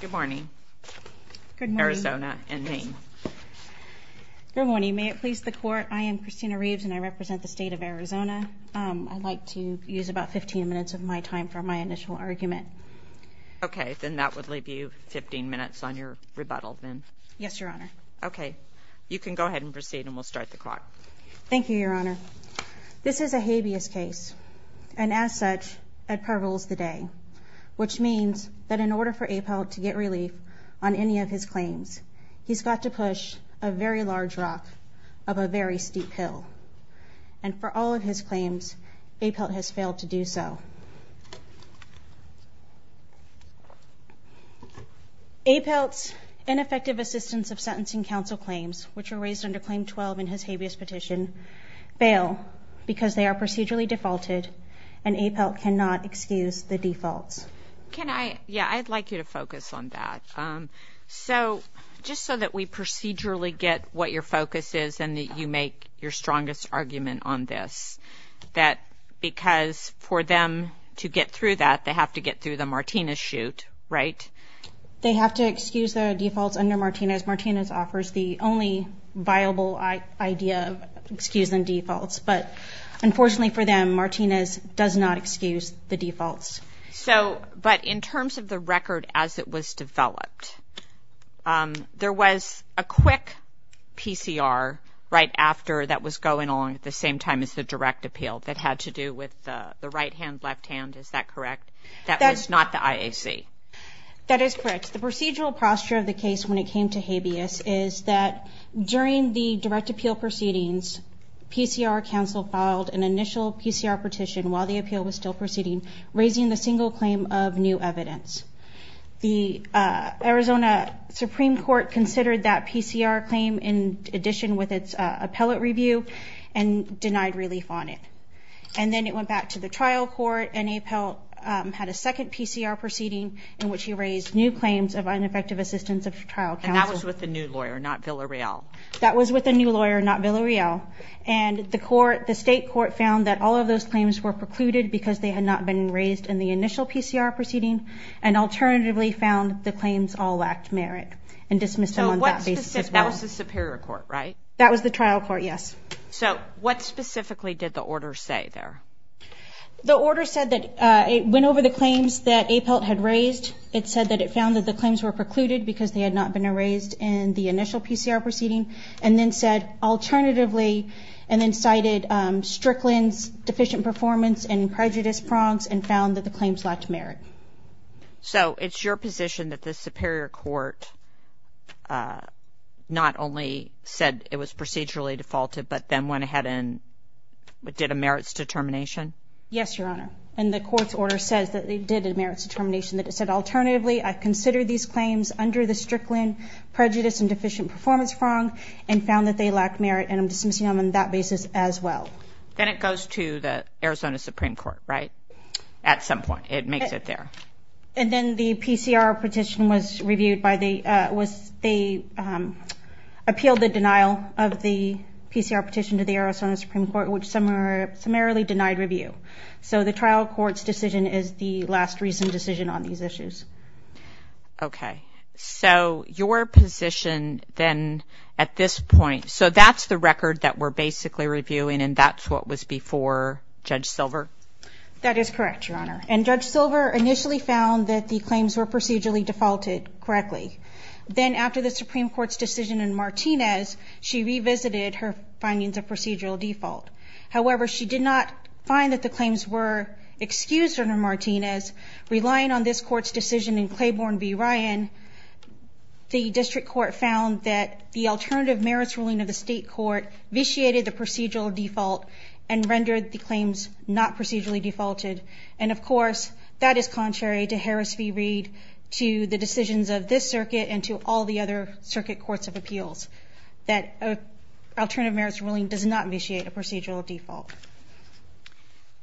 Good morning. Good morning. Arizona and Maine. Good morning. May it please the court, I am Christina Reeves and I represent the state of Arizona. I'd like to use about 15 minutes of my time for my initial argument. Okay, then that would leave you 15 minutes on your rebuttal then. Yes, your honor. Okay, you can go ahead and proceed and we'll start the court. Thank you, your honor. This is a habeas case, and as such, I prevailed today, which means that in order for Apelt to get relief on any of his claims, he's got to push a very large rock up a very steep hill. And for all of his claims, Apelt has failed to do so. Apelt's ineffective assistance of sentencing counsel claims, which were raised under Claim 12 in his habeas petition, fail because they are procedurally defaulted and Apelt cannot excuse the default. Can I – yeah, I'd like you to focus on that. So just so that we procedurally get what your focus is and that you make your strongest argument on this, that because for them to get through that, they have to get through the Martinez shoot, right? They have to excuse the default under Martinez. Martinez offers the only viable idea of excusing defaults, but unfortunately for them, Martinez does not excuse the defaults. So – but in terms of the record as it was developed, there was a quick PCR right after that was going on at the same time as the direct appeal that had to do with the right hand, left hand. Is that correct? That was not the IAC. That is correct. The procedural posture of the case when it came to habeas is that during the direct appeal proceedings, PCR counsel filed an initial PCR petition while the appeal was still proceeding, raising the single claim of new evidence. The Arizona Supreme Court considered that PCR claim in addition with its appellate review and denied relief on it. And then it went back to the trial court and Apelt had a second PCR proceeding in which he raised new claims of ineffective assistance of trial counsel. And that was with a new lawyer, not Villareal. That was with a new lawyer, not Villareal. And the court – the state court found that all of those claims were precluded because they had not been raised in the initial PCR proceeding and alternatively found the claims all lacked merit and dismissed them on that basis. So what – that was the superior court, right? That was the trial court, yes. So what specifically did the order say there? The order said that it went over the claims that Apelt had raised. It said that it found that the claims were precluded because they had not been raised in the initial PCR proceeding and then said alternatively and then cited Strickland's deficient performance and prejudice prompts and found that the claims lacked merit. So it's your position that the superior court not only said it was procedurally defaulted but then went ahead and did a merits determination? Yes, Your Honor. And the court's order says that they did a merits determination that it said alternatively I've considered these claims under the Strickland prejudice and deficient performance prompts and found that they lacked merit and I'm dismissing them on that basis as well. Then it goes to the Arizona Supreme Court, right, at some point. It makes it there. And then the PCR petition was reviewed by the – they appealed the denial of the PCR petition to the Arizona Supreme Court, which summarily denied review. So the trial court's decision is the last reason decision on these issues. Okay. So your position then at this point – so that's the record that we're basically reviewing and that's what was before Judge Silver? That is correct, Your Honor. And Judge Silver initially found that the claims were procedurally defaulted correctly. Then after the Supreme Court's decision in Martinez, she revisited her findings of procedural default. However, she did not find that the claims were excused under Martinez. Relying on this court's decision in Claiborne v. Ryan, the district court found that the alternative merits ruling of the state court vitiated the procedural default and rendered the claims not procedurally defaulted. And of course, that is contrary to Harris v. Reed, to the decisions of this circuit, and to all the other circuit courts of appeals, that an alternative merits ruling does not vitiate a procedural default.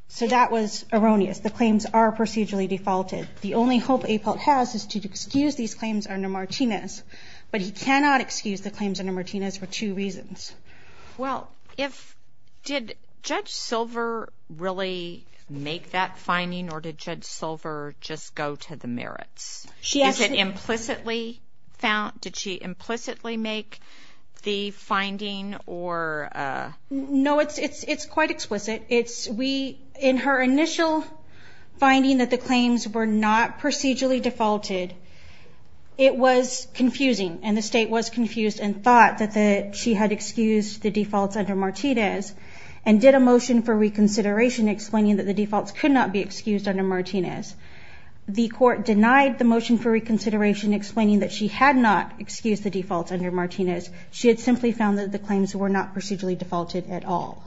So that was erroneous. The claims are procedurally defaulted. The only hope a fault has is to excuse these claims under Martinez, but you cannot excuse the claims under Martinez for two reasons. Well, did Judge Silver really make that finding, or did Judge Silver just go to the merits? Did she implicitly make the finding? No, it's quite explicit. In her initial finding that the claims were not procedurally defaulted, it was confusing. And the state was confused and thought that she had excused the defaults under Martinez and did a motion for reconsideration explaining that the defaults could not be excused under Martinez. The court denied the motion for reconsideration explaining that she had not excused the defaults under Martinez. She had simply found that the claims were not procedurally defaulted at all.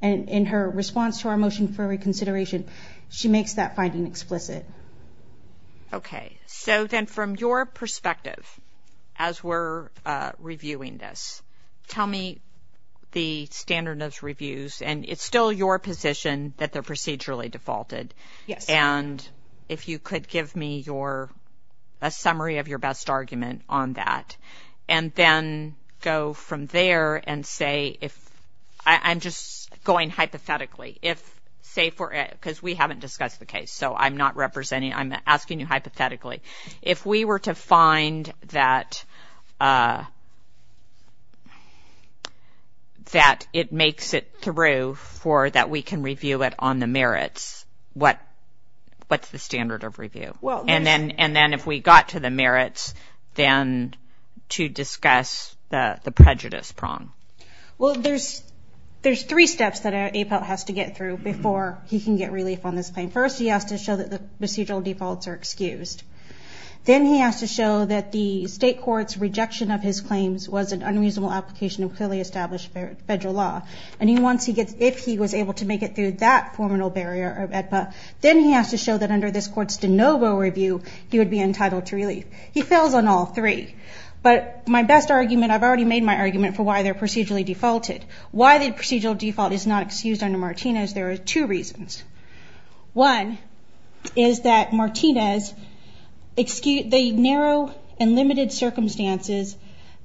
And in her response to our motion for reconsideration, she makes that finding explicit. Okay. So then from your perspective, as we're reviewing this, tell me the standard of reviews. And it's still your position that they're procedurally defaulted. And if you could give me a summary of your best argument on that. And then go from there and say if – I'm just going hypothetically. Say for – because we haven't discussed the case, so I'm not representing – I'm asking you hypothetically. If we were to find that it makes it through for – that we can review it on the merits, what's the standard of review? And then if we got to the merits, then to discuss the prejudice prong. Well, there's three steps that APAL has to get through before he can get relief on this claim. First, he has to show that the procedural defaults are excused. Then he has to show that the state court's rejection of his claims was an unreasonable application of clearly established federal law. And he wants to get – if he was able to make it through that criminal barrier of APAL, then he has to show that under this court's de novo review, he would be entitled to relief. He fails on all three. But my best argument – I've already made my argument for why they're procedurally defaulted. Why the procedural default is not excused under Martinez, there are two reasons. One is that Martinez – the narrow and limited circumstances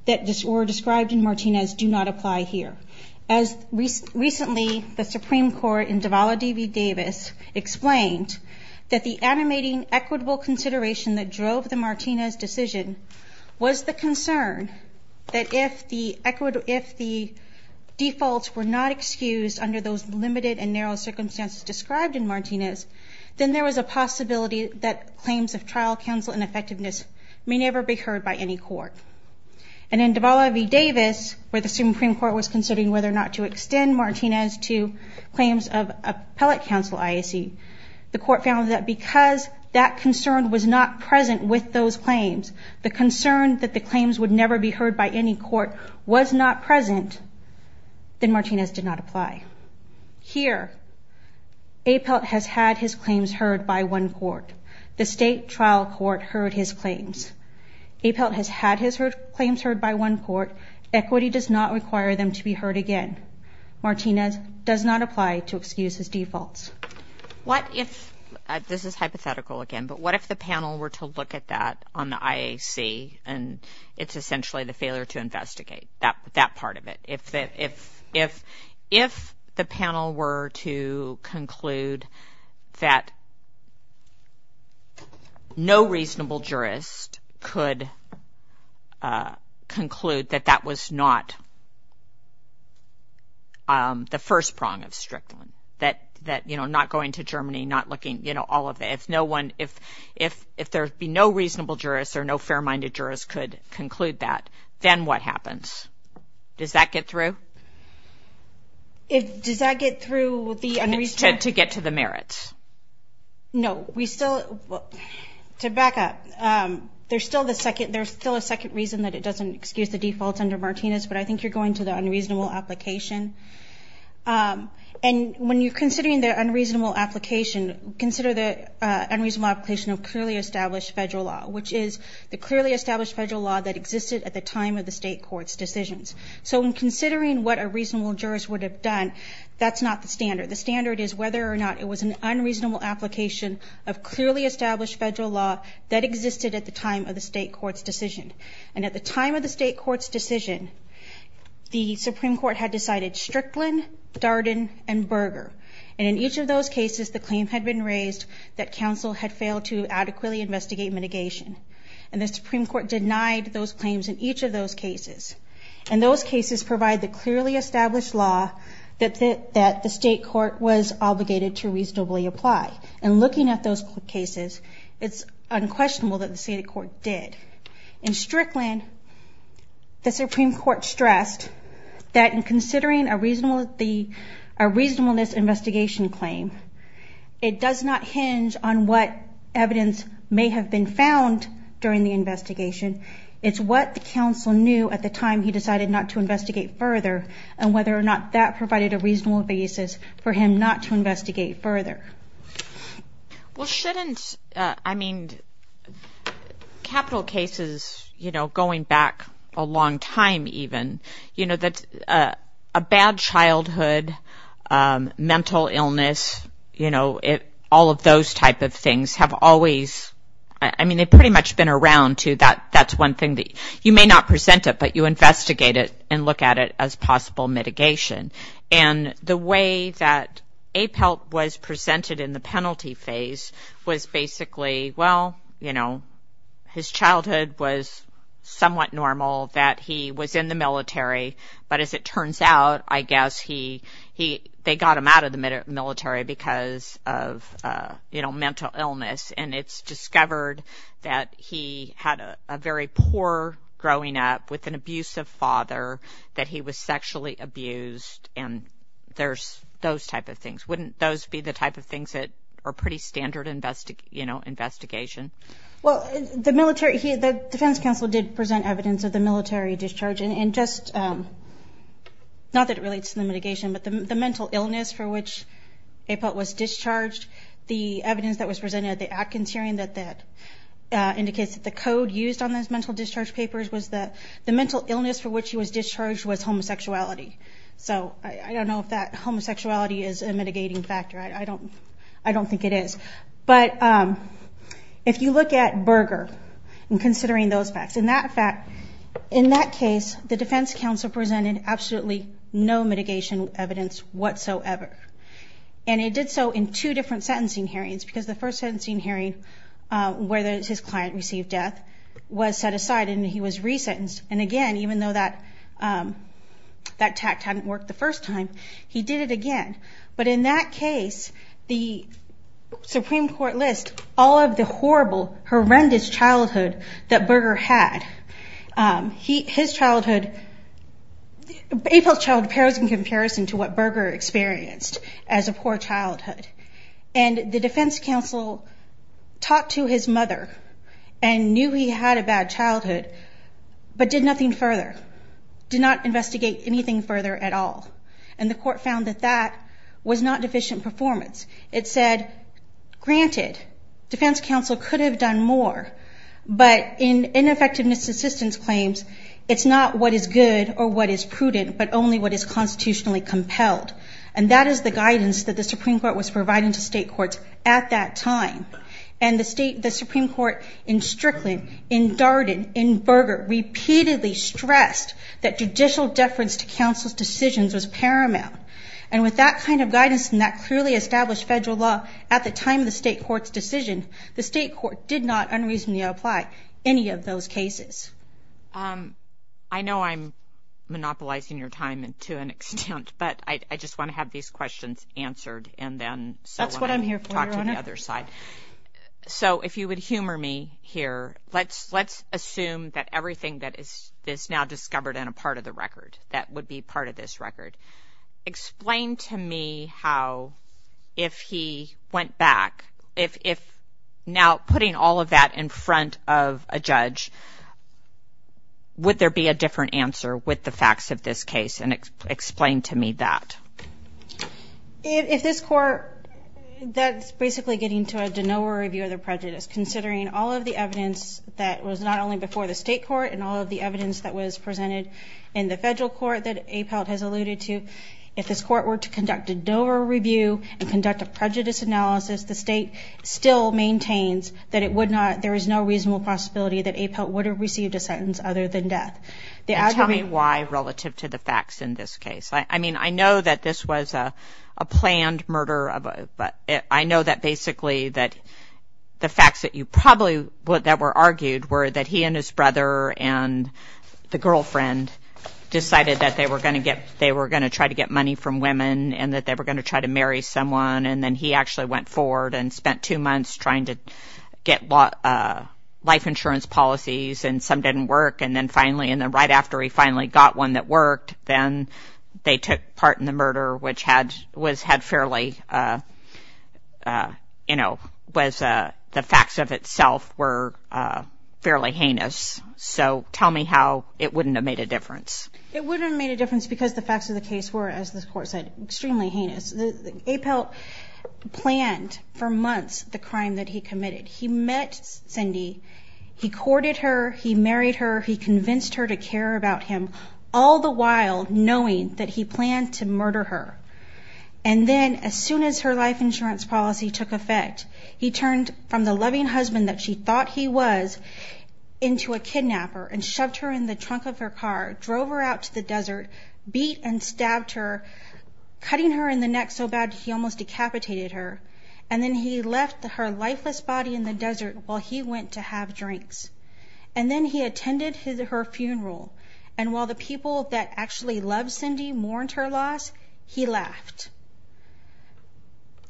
that were described in Martinez do not apply here. As recently, the Supreme Court in Davala v. Davis explained that the animating equitable consideration that drove the Martinez decision was the concern that if the defaults were not excused under those limited and narrow circumstances described in Martinez, then there was a possibility that claims of trial, counsel, and effectiveness may never be heard by any court. And in Davala v. Davis, where the Supreme Court was considering whether or not to extend Martinez to claims of appellate counsel IAC, the court found that because that concern was not present with those claims, the concern that the claims would never be heard by any court was not present, then Martinez did not apply. Here, APAL has had his claims heard by one court. The state trial court heard his claims. APAL has had his claims heard by one court. Equity does not require them to be heard again. Martinez does not apply to excuses defaults. This is hypothetical again, but what if the panel were to look at that on the IAC, and it's essentially the failure to investigate, that part of it. If the panel were to conclude that no reasonable jurist could conclude that that was not the first prong of strictly, that not going to Germany, not looking, all of that, if there would be no reasonable jurist or no fair-minded jurist could conclude that, then what happens? Does that get through? Does that get through to get to the merits? No. To back up, there's still a second reason that it doesn't excuse the defaults under Martinez, but I think you're going to the unreasonable application. And when you're considering the unreasonable application, consider the unreasonable application of clearly established federal law, which is the clearly established federal law that existed at the time of the state court's decisions. So when considering what a reasonable jurist would have done, that's not the standard. The standard is whether or not it was an unreasonable application of clearly established federal law that existed at the time of the state court's decision. And at the time of the state court's decision, the Supreme Court had decided Strickland, Darden, and Berger. And in each of those cases, the claims had been raised that counsel had failed to adequately investigate mitigation. And the Supreme Court denied those claims in each of those cases. And those cases provide the clearly established law that the state court was obligated to reasonably apply. And looking at those cases, it's unquestionable that the state court did. In Strickland, the Supreme Court stressed that in considering a reasonableness investigation claim, it does not hinge on what evidence may have been found during the investigation. It's what the counsel knew at the time he decided not to investigate further and whether or not that provided a reasonable basis for him not to investigate further. Well, shouldn't, I mean, capital cases, you know, going back a long time even, you know, a bad childhood, mental illness, you know, all of those type of things have always, I mean, they've pretty much been around too, that's one thing. You may not present it, but you investigate it and look at it as possible mitigation. And the way that APELP was presented in the penalty phase was basically, well, you know, his childhood was somewhat normal that he was in the military. But as it turns out, I guess they got him out of the military because of, you know, mental illness. And it's discovered that he had a very poor growing up with an abusive father, that he was sexually abused, and there's those type of things. Wouldn't those be the type of things that are pretty standard, you know, investigation? Well, the military, the defense counsel did present evidence of the military discharge. And just, not that it relates to the mitigation, but the mental illness for which APELP was discharged, the evidence that was presented at the Atkins hearing that indicates that the code used on those mental discharge papers was that the mental illness for which he was discharged was homosexuality. So I don't know if that homosexuality is a mitigating factor. I don't think it is. But if you look at Berger and considering those facts, in that case, the defense counsel presented absolutely no mitigation evidence whatsoever. And it did so in two different sentencing hearings, because the first sentencing hearing, where his client received death, was set aside and he was resentenced. And again, even though that tact hadn't worked the first time, he did it again. But in that case, the Supreme Court lists all of the horrible, horrendous childhood that Berger had. His childhood, APELP child appears in comparison to what Berger experienced as a poor childhood. And the defense counsel talked to his mother and knew he had a bad childhood, but did nothing further, did not investigate anything further at all. And the court found that that was not deficient performance. It said, granted, defense counsel could have done more, but in ineffectiveness assistance claims, it's not what is good or what is prudent, but only what is constitutionally compelled. And that is the guidance that the Supreme Court was providing to state courts at that time. And the Supreme Court in Strickland, in Darden, in Berger, repeatedly stressed that judicial deference to counsel's decisions was paramount. And with that kind of guidance and that clearly established federal law, at the time of the state court's decision, the state court did not unreasonably apply any of those cases. I know I'm monopolizing your time to an extent, but I just want to have these questions answered and then That's what I'm here for, Your Honor. talk to the other side. So if you would humor me here, let's assume that everything that is now discovered in a part of the record that would be part of this record. Explain to me how, if he went back, if now putting all of that in front of a judge, would there be a different answer with the facts of this case? And explain to me that. In this court, that's basically getting to a de novo review of the prejudice, considering all of the evidence that was not only before the state court and all of the evidence that was presented in the federal court that Apelt has alluded to. If this court were to conduct a de novo review and conduct a prejudice analysis, the state still maintains that it would not, there is no reasonable possibility that Apelt would have received a sentence other than death. Tell me why relative to the facts in this case. I mean, I know that this was a planned murder. I know that basically that the facts that were argued were that he and his brother and the girlfriend decided that they were going to try to get money from women and that they were going to try to marry someone. And then he actually went forward and spent two months trying to get life insurance policies and some didn't work. And then right after he finally got one that worked, then they took part in the murder, which had fairly, you know, the facts of itself were fairly heinous. So tell me how it wouldn't have made a difference. It wouldn't have made a difference because the facts of the case were, as this court said, extremely heinous. Apelt planned for months the crime that he committed. He met Cindy. He courted her. He married her. He convinced her to care about him, all the while knowing that he planned to murder her. And then as soon as her life insurance policy took effect, he turned from the loving husband that she thought he was into a kidnapper and shoved her in the trunk of her car, drove her out to the desert, beat and stabbed her, cutting her in the neck so bad that he almost decapitated her, and then he left her lifeless body in the desert while he went to have drinks. And then he attended her funeral. And while the people that actually loved Cindy mourned her loss, he left.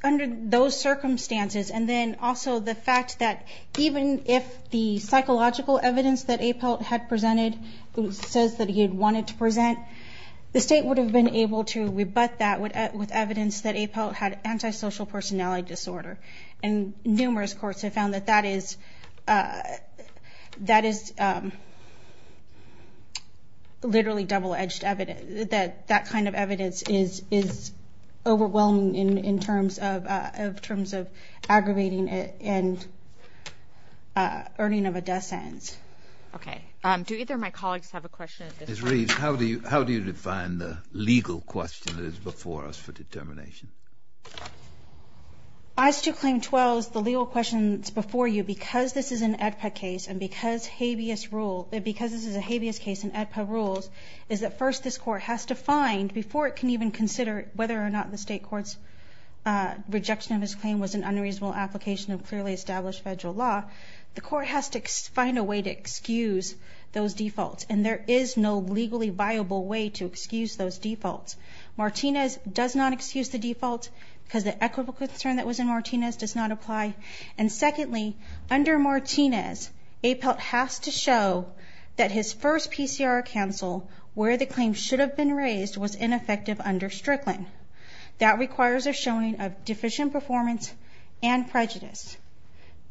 Under those circumstances, and then also the fact that even if the psychological evidence that Apelt had presented says that he had wanted to present, the state would have been able to rebut that with evidence that Apelt had antisocial personality disorder. And numerous courts have found that that is literally double-edged evidence, that that kind of evidence is overwhelming in terms of aggravating it and earning of a death sentence. Okay. Do either of my colleagues have a question? Ms. Reed, how do you define the legal question that is before us for determination? As to Claim 12, the legal question before you, because this is an AEDPA case and because this is a habeas case and AEDPA rules, is that first this court has to find, before it can even consider whether or not the state court's rejection of his claim was an unreasonable application of clearly established federal law, the court has to find a way to excuse those defaults. And there is no legally viable way to excuse those defaults. Martinez does not excuse the defaults because the equitable concern that was in Martinez does not apply. And secondly, under Martinez, Apelt has to show that his first PCR counsel, where the claim should have been raised, was ineffective under Strickland. That requires a showing of deficient performance and prejudice.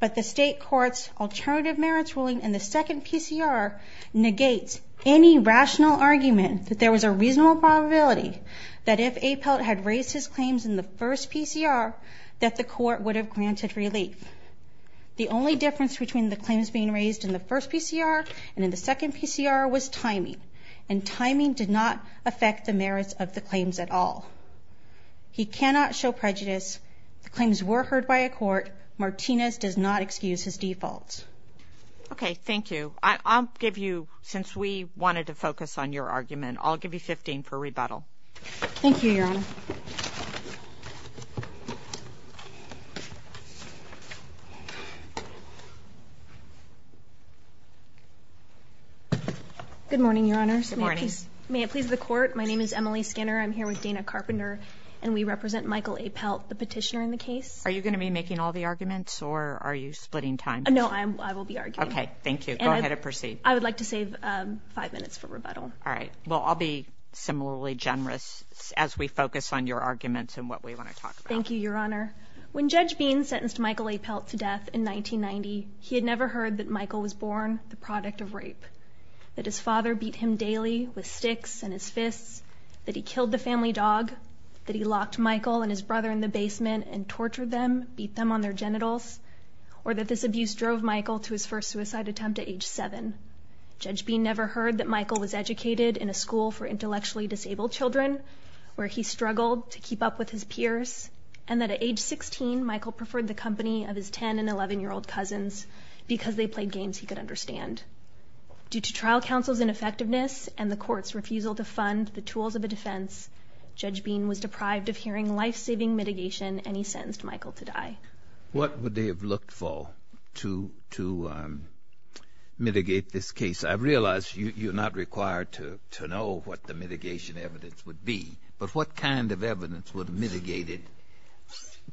But the state court's alternative merits ruling in the second PCR negates any rational argument that there was a reasonable probability that if Apelt had raised his claims in the first PCR, that the court would have granted relief. The only difference between the claims being raised in the first PCR and in the second PCR was timing, and timing did not affect the merits of the claims at all. He cannot show prejudice. The claims were heard by a court. Martinez does not excuse his defaults. Okay, thank you. I'll give you, since we wanted to focus on your argument, I'll give you 15 for rebuttal. Thank you, Your Honor. Good morning, Your Honor. Good morning. May it please the court, my name is Emily Skinner. I'm here with Dana Carpenter, and we represent Michael Apelt, the petitioner in the case. Are you going to be making all the arguments, or are you splitting time? No, I will be arguing. Go ahead and proceed. I would like to save five minutes for rebuttal. All right, well, I'll be similarly generous as we focus on your arguments and what we want to talk about. Thank you, Your Honor. When Judge Bean sentenced Michael Apelt to death in 1990, he had never heard that Michael was born the product of rape, that his father beat him daily with sticks and his fists, that he killed the family dog, that he locked Michael and his brother in the basement and tortured them, beat them on their genitals, or that this abuse drove Michael to his first suicide attempt at age seven. Judge Bean never heard that Michael was educated in a school for intellectually disabled children, where he struggled to keep up with his peers, and that at age 16, Michael preferred the company of his 10- and 11-year-old cousins because they played games he could understand. Due to trial counsel's ineffectiveness and the court's refusal to fund the tools of the defense, Judge Bean was deprived of hearing life-saving mitigation, and he sentenced Michael to die. What would they have looked for to mitigate this case? I realize you're not required to know what the mitigation evidence would be, but what kind of evidence would have mitigated,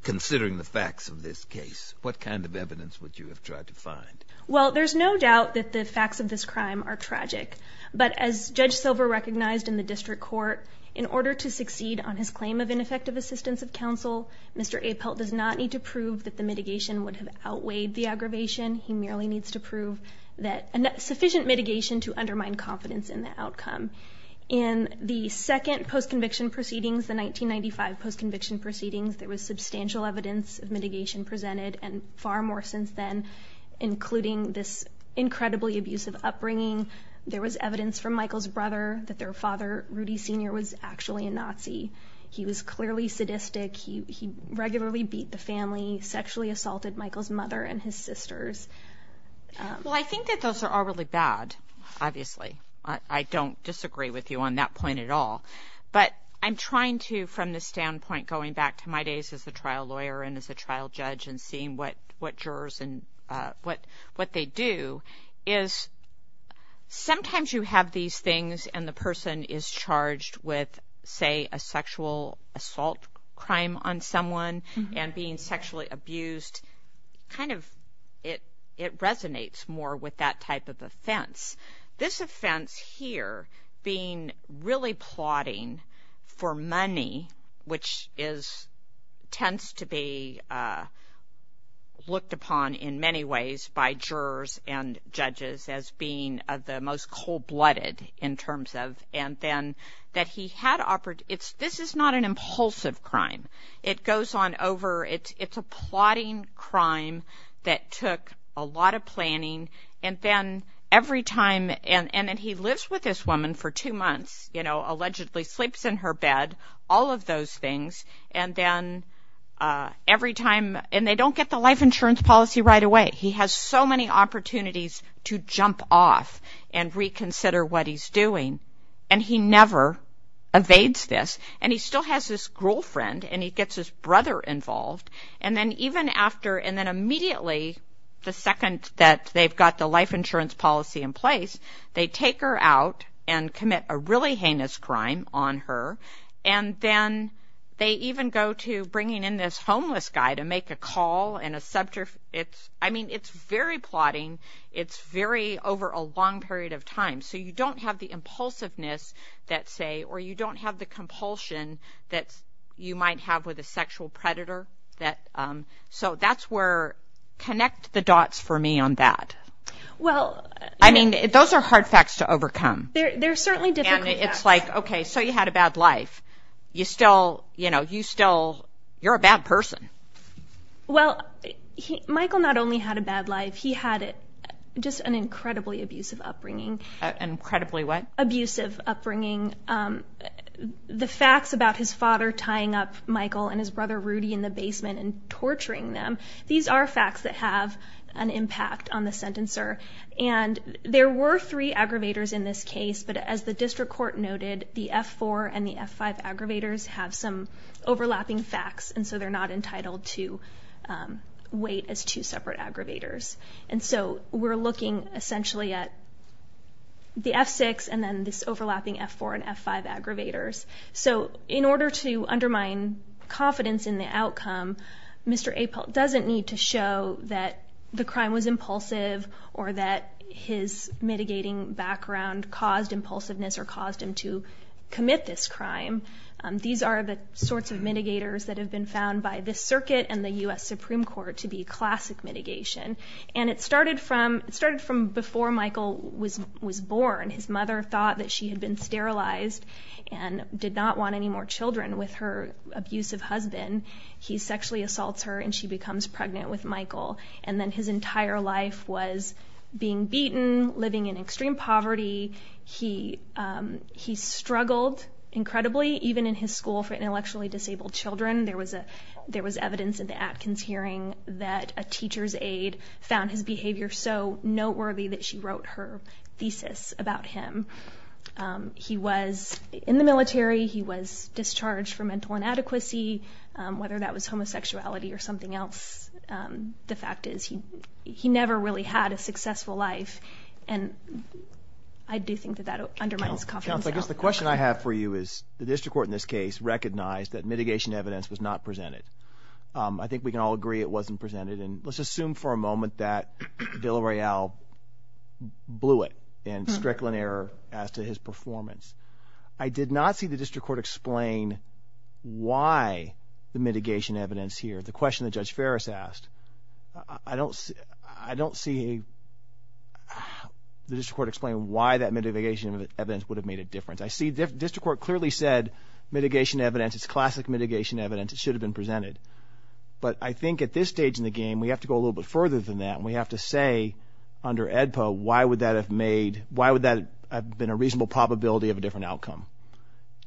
considering the facts of this case, what kind of evidence would you have tried to find? Well, there's no doubt that the facts of this crime are tragic, but as Judge Silver recognized in the district court, in order to succeed on his claim of ineffective assistance of counsel, Mr. Apelt does not need to prove that the mitigation would have outweighed the aggravation. He merely needs to prove sufficient mitigation to undermine confidence in the outcome. In the second post-conviction proceedings, the 1995 post-conviction proceedings, there was substantial evidence of mitigation presented, and far more since then, including this incredibly abusive upbringing. There was evidence from Michael's brother that their father, Rudy Sr., was actually a Nazi. He was clearly sadistic. He regularly beat the family, sexually assaulted Michael's mother and his sisters. Well, I think that those are all really bad, obviously. I don't disagree with you on that point at all. But I'm trying to, from the standpoint, going back to my days as a trial lawyer and as a trial judge and seeing what jurors and what they do, is sometimes you have these things and the person is charged with, say, a sexual assault crime on someone and being sexually abused, kind of it resonates more with that type of offense. This offense here, being really plotting for money, which tends to be looked upon in many ways by jurors and judges as being the most cold-blooded in terms of... And then that he had... This is not an impulsive crime. It goes on over... It's a plotting crime that took a lot of planning, and then every time... And then he lives with this woman for two months, allegedly sleeps in her bed, all of those things, and then every time... And they don't get the life insurance policy right away. He has so many opportunities to jump off and reconsider what he's doing, and he never evades this. And he still has this girlfriend, and he gets his brother involved, and then even after... And then immediately, the second that they've got the life insurance policy in place, they take her out and commit a really heinous crime on her, and then they even go to bringing in this homeless guy to make a call and a... I mean, it's very plotting. It's very over a long period of time, so you don't have the impulsiveness, let's say, or you don't have the compulsion that you might have with a sexual predator. So that's where... Connect the dots for me on that. I mean, those are hard facts to overcome. And it's like, okay, so you had a bad life. You still... You're a bad person. Well, Michael not only had a bad life, he had just an incredibly abusive upbringing. Incredibly what? Abusive upbringing. The facts about his father tying up Michael and his brother Rudy in the basement and torturing them, these are facts that have an impact on the sentencer. And there were three aggravators in this case, but as the district court noted, the F4 and the F5 aggravators have some overlapping facts, and so they're not entitled to weight as two separate aggravators. And so we're looking essentially at the F6 and then this overlapping F4 and F5 aggravators. So in order to undermine confidence in the outcome, Mr. Apelt doesn't need to show that the crime was impulsive or that his mitigating background caused impulsiveness or caused him to commit this crime. These are the sorts of mitigators that have been found by the circuit and the U.S. Supreme Court to be classic mitigation. And it started from before Michael was born. His mother thought that she had been sterilized and did not want any more children with her abusive husband. He sexually assaults her, and she becomes pregnant with Michael. And then his entire life was being beaten, living in extreme poverty. He struggled incredibly, even in his school for intellectually disabled children. There was evidence in the Atkins hearing that a teacher's aide found his behavior so noteworthy that she wrote her thesis about him. He was in the military. He was discharged for mental inadequacy, whether that was homosexuality or something else. The fact is he never really had a successful life, and I do think that that undermines confidence. The question I have for you is, the district court in this case recognized that mitigation evidence was not presented. I think we can all agree it wasn't presented, and let's assume for a moment that Villareal blew it in Strickland error as to his performance. I did not see the district court explain why the mitigation evidence here. The question that Judge Ferris asked, I don't see the district court explain why that mitigation evidence would have made a difference. District court clearly said mitigation evidence, it's classic mitigation evidence, it should have been presented. But I think at this stage in the game, we have to go a little bit further than that, and we have to say under AEDPA, why would that have been a reasonable probability of a different outcome?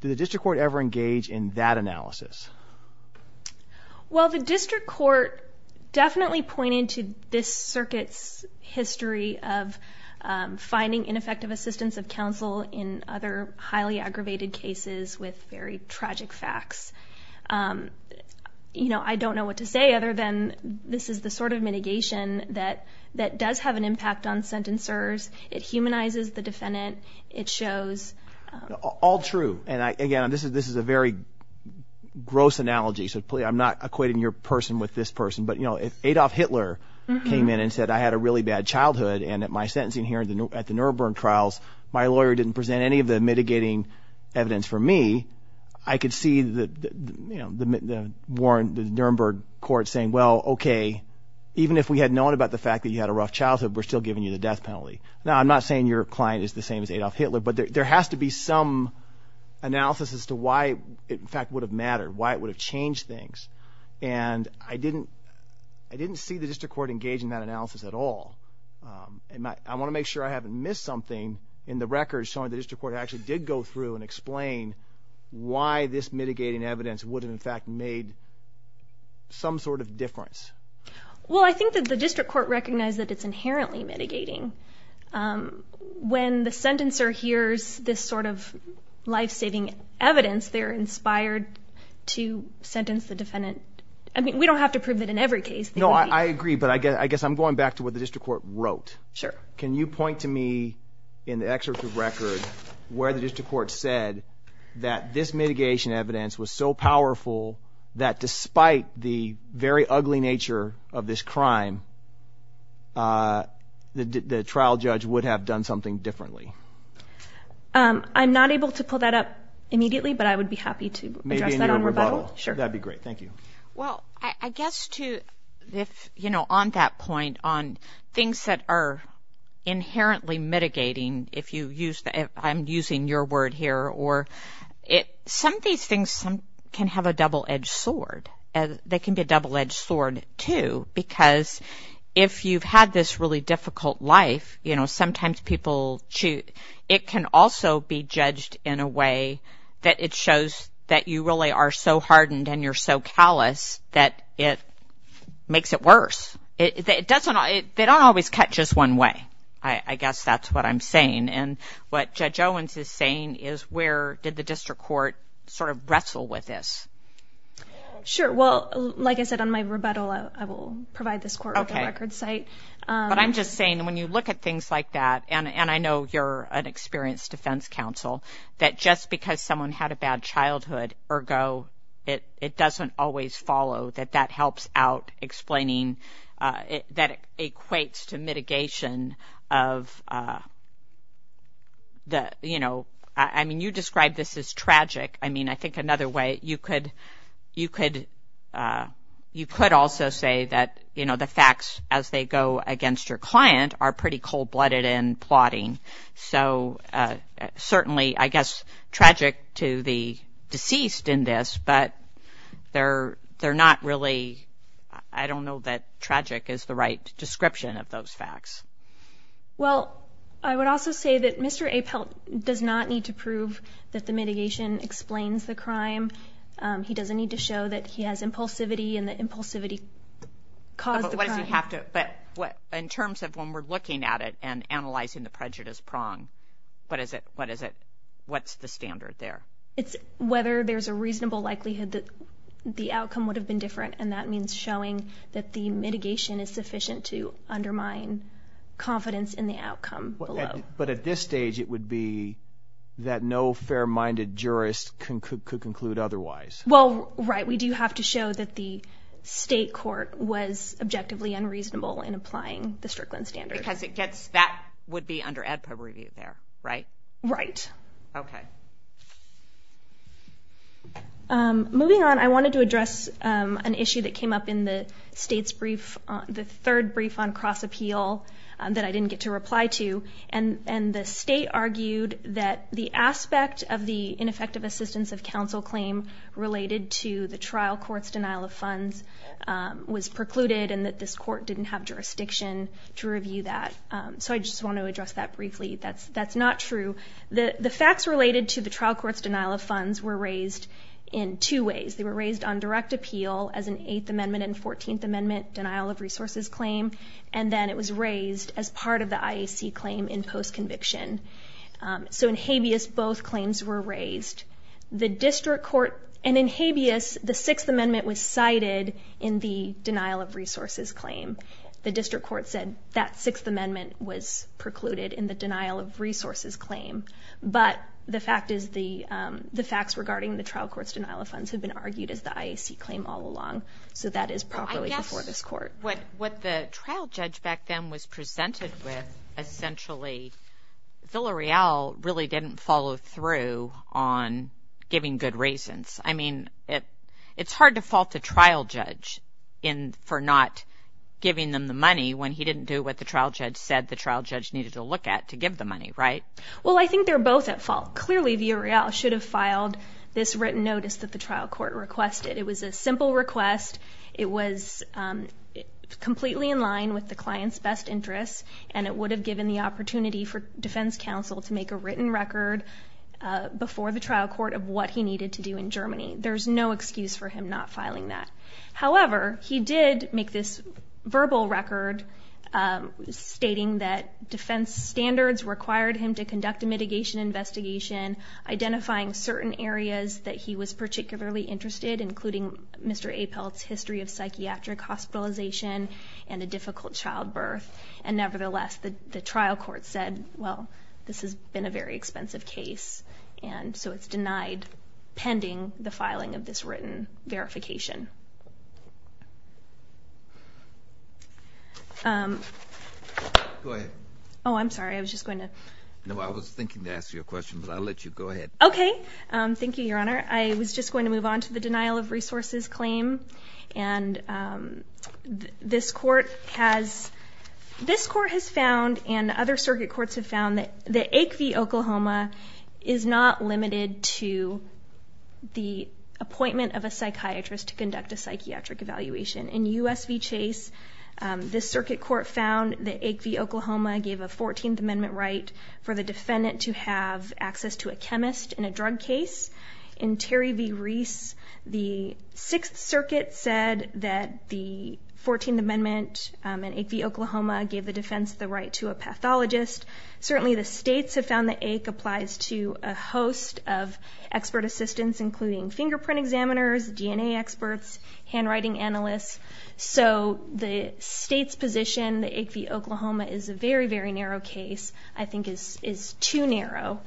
Did the district court ever engage in that analysis? Well, the district court definitely pointed to this circuit's history of finding ineffective assistance of counsel in other highly aggravated cases with very tragic facts. You know, I don't know what to say other than this is the sort of mitigation that does have an impact on sentencers. It humanizes the defendant. It shows... All true, and again, this is a very good question. This is a gross analogy, so I'm not equating your person with this person, but if Adolf Hitler came in and said, I had a really bad childhood, and at my sentencing here at the Nuremberg trials, my lawyer didn't present any of the mitigating evidence for me, I could see the Nuremberg court saying, well, okay, even if we had known about the fact that you had a rough childhood, we're still giving you the death penalty. Now, I'm not saying your client is the same as Adolf Hitler, but there has to be some analysis as to why it in fact would have mattered, why it would have changed things. And I didn't see the district court engage in that analysis at all. And I want to make sure I haven't missed something in the record showing the district court actually did go through and explain why this mitigating evidence would have in fact made some sort of difference. Well, I think that the district court recognized that it's inherently mitigating. When the sentencer hears this sort of life-saving evidence, they're inspired to sentence the defendant. I mean, we don't have to prove it in every case. No, I agree, but I guess I'm going back to what the district court wrote. Can you point to me in the excerpt of the record where the district court said that this mitigation evidence was so powerful that despite the very ugly nature of this crime, the trial judge would have done something differently? I'm not able to pull that up immediately, but I would be happy to address that in a rebuttal. Maybe in your rebuttal. That would be great. Thank you. Well, I guess on that point, on things that are inherently mitigating, if I'm using your word here, some of these things can have a double-edged sword. They can be a double-edged sword, too, because if you've had this really difficult life, sometimes people shoot. It can also be judged in a way that it shows that you really are so hardened and you're so callous that it makes it worse. They don't always cut just one way. I guess that's what I'm saying. And what Judge Owens is saying is where did the district court sort of wrestle with this? Sure. Well, like I said, on my rebuttal, I will provide this court with a record site. But I'm just saying, when you look at things like that, and I know you're an experienced defense counsel, that just because someone had a bad childhood, ergo, it doesn't always follow, that that helps out explaining, that it equates to mitigation of... I mean, you described this as tragic. I mean, I think another way, you could also say that the facts, as they go against your client, are pretty cold-blooded in plotting. So certainly, I guess, tragic to the deceased in this, but they're not really... I don't know that tragic is the right description of those facts. Well, I would also say that Mr. Apelt does not need to prove that the mitigation explains the crime. He doesn't need to show that he has impulsivity and that impulsivity caused the crime. But in terms of when we're looking at it and analyzing the prejudice prong, what is it? What's the standard there? It's whether there's a reasonable likelihood that the outcome would have been different, and that means showing that the mitigation is sufficient to undermine confidence in the outcome alone. But at this stage, it would be that no fair-minded jurist could conclude otherwise. Well, right. We do have to show that the state court was objectively unreasonable in applying the Strickland standard. Because that would be under ADPA review there, right? Right. Okay. Moving on, I wanted to address an issue that came up in the state's brief, the third brief on cross-appeal that I didn't get to reply to, and the state argued that the aspect of the ineffective assistance of counsel claim related to the trial court's denial of funds was precluded and that this court didn't have jurisdiction to review that. So I just want to address that briefly. That's not true. The facts related to the trial court's denial of funds were raised in two ways. They were raised on direct appeal as an 8th Amendment and 14th Amendment denial of resources claim, and then it was raised as part of the IAC claim in post-conviction. So in habeas, both claims were raised. And in habeas, the 6th Amendment was cited in the denial of resources claim. The district court said that 6th Amendment was precluded in the denial of resources claim. But the facts regarding the trial court's denial of funds have been argued as the IAC claim all along, so that is properly before this court. What the trial judge back then was presented with, essentially, Villareal really didn't follow through on giving good reasons. I mean, it's hard to fault the trial judge for not giving them the money when he didn't do what the trial judge said the trial judge needed to look at to give the money, right? Well, I think they're both at fault. Clearly, Villareal should have filed this written notice that the trial court requested. It was a simple request. It was completely in line with the client's best interest, and it would have given the opportunity for defense counsel to make a written record before the trial court of what he needed to do in Germany. There's no excuse for him not filing that. However, he did make this verbal record stating that defense standards required him to conduct a mitigation investigation identifying certain areas that he was particularly interested in, including Mr. Apel's history of psychiatric hospitalization and a difficult childbirth. And nevertheless, the trial court said, well, this has been a very expensive case, and so it's denied pending the filing of this written verification. Go ahead. Oh, I'm sorry. I was just going to... No, I was thinking to ask you a question, but I'll let you. Go ahead. Okay. Thank you, Your Honor. I was just going to move on to the denial of resources claim. And this court has... This court has found, and other circuit courts have found, that Acve, Oklahoma, is not limited to the appointment of a psychiatrist to conduct a psychiatric evaluation. In U.S. v. Chase, this circuit court found that Acve, Oklahoma, gave a 14th Amendment right for the defendant to have access to a chemist in a drug case. In Terry v. Reese, the Sixth Circuit said that the 14th Amendment in Acve, Oklahoma, gave the defense the right to a pathologist. Certainly, the states have found that Acve applies to a host of expert assistants, including fingerprint examiners, DNA experts, handwriting analysts. So the state's position, Acve, Oklahoma, is a very, very narrow case, I think is too narrow.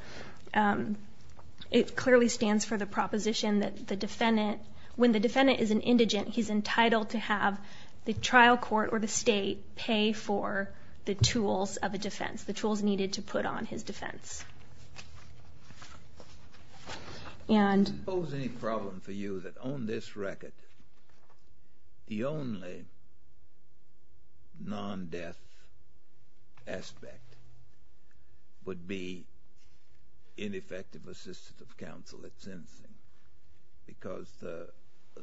It clearly stands for the proposition that the defendant... When the defendant is an indigent, he's entitled to have the trial court or the state pay for the tools of a defense, the tools needed to put on his defense. And... If there was any problem for you that on this record, the only non-death aspect would be ineffective assistance of counsel, it's in... Because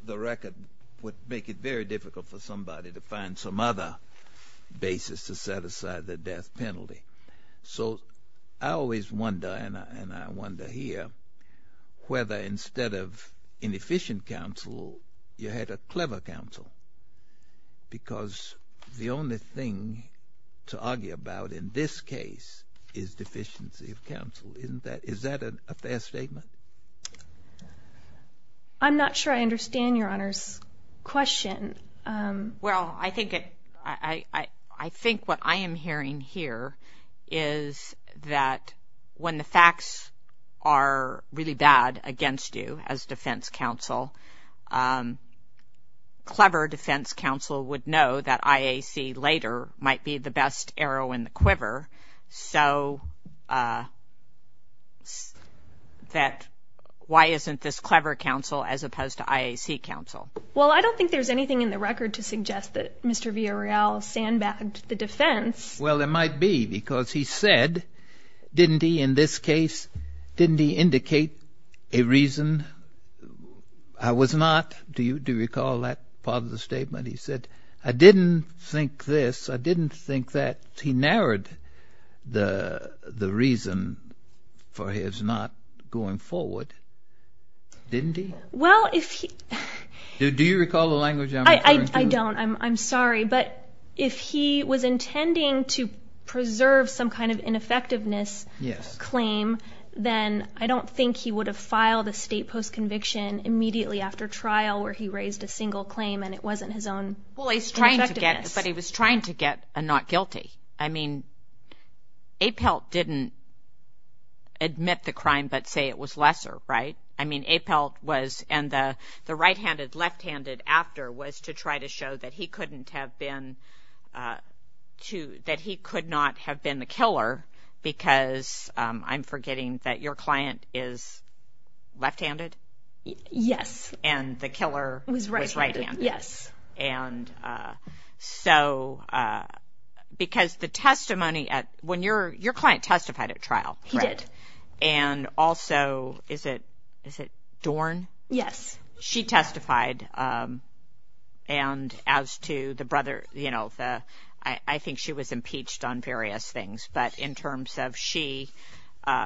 the record would make it very difficult for somebody to find some other basis to set aside the death penalty. So I always wonder, and I wonder here, whether instead of inefficient counsel, you had a clever counsel. Because the only thing to argue about in this case is deficiency of counsel. Is that a fair statement? I'm not sure I understand Your Honor's question. Well, I think what I am hearing here is that when the facts are really bad against you as defense counsel, clever defense counsel would know that IAC later might be the best arrow in the quiver. So... That... Why isn't this clever counsel as opposed to IAC counsel? Well, I don't think there's anything in the record to suggest that Mr. Villarreal sandbagged the defense. Well, there might be because he said, didn't he in this case, didn't he indicate a reason I was not... Do you recall that part of the statement? He said, I didn't think this, I didn't think that. He narrowed the reason for his not going forward. Didn't he? Well, if he... Do you recall the language I'm referring to? I don't, I'm sorry. But if he was intending to preserve some kind of ineffectiveness claim, then I don't think he would have filed a state post-conviction immediately after trial where he raised a single claim and it wasn't his own... But he was trying to get a not guilty. I mean, Apelt didn't admit the crime but say it was lesser, right? I mean, Apelt was... And the right-handed, left-handed after was to try to show that he couldn't have been... That he could not have been the killer because I'm forgetting that your client is left-handed? Yes. And the killer was right-handed. Was right-handed, yes. And so, because the testimony at... Your client testified at trial, right? He did. And also, is it Dorn? Yes. She testified and as to the brother, I think she was impeached on various things but in terms of she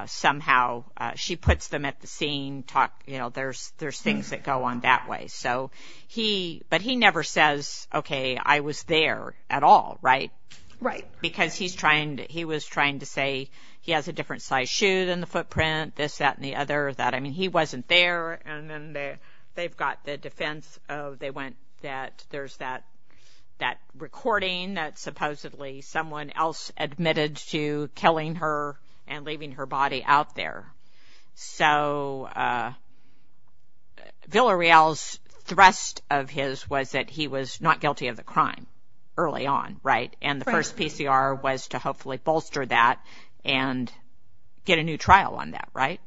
somehow... She puts them at the scene, you know, there's things that go on that way. So he... But he never says, okay, I was there at all, right? Right. Because he was trying to say he has a different size shoe than the footprint, this, that, and the other. I mean, he wasn't there and then they've got the defense of... They went that there's that recording that supposedly someone else admitted to killing her and leaving her body out there. So Villareal's thrust of his was that he was not guilty of the crime early on, right? And the first PCR was to hopefully bolster that and get a new trial on that, right?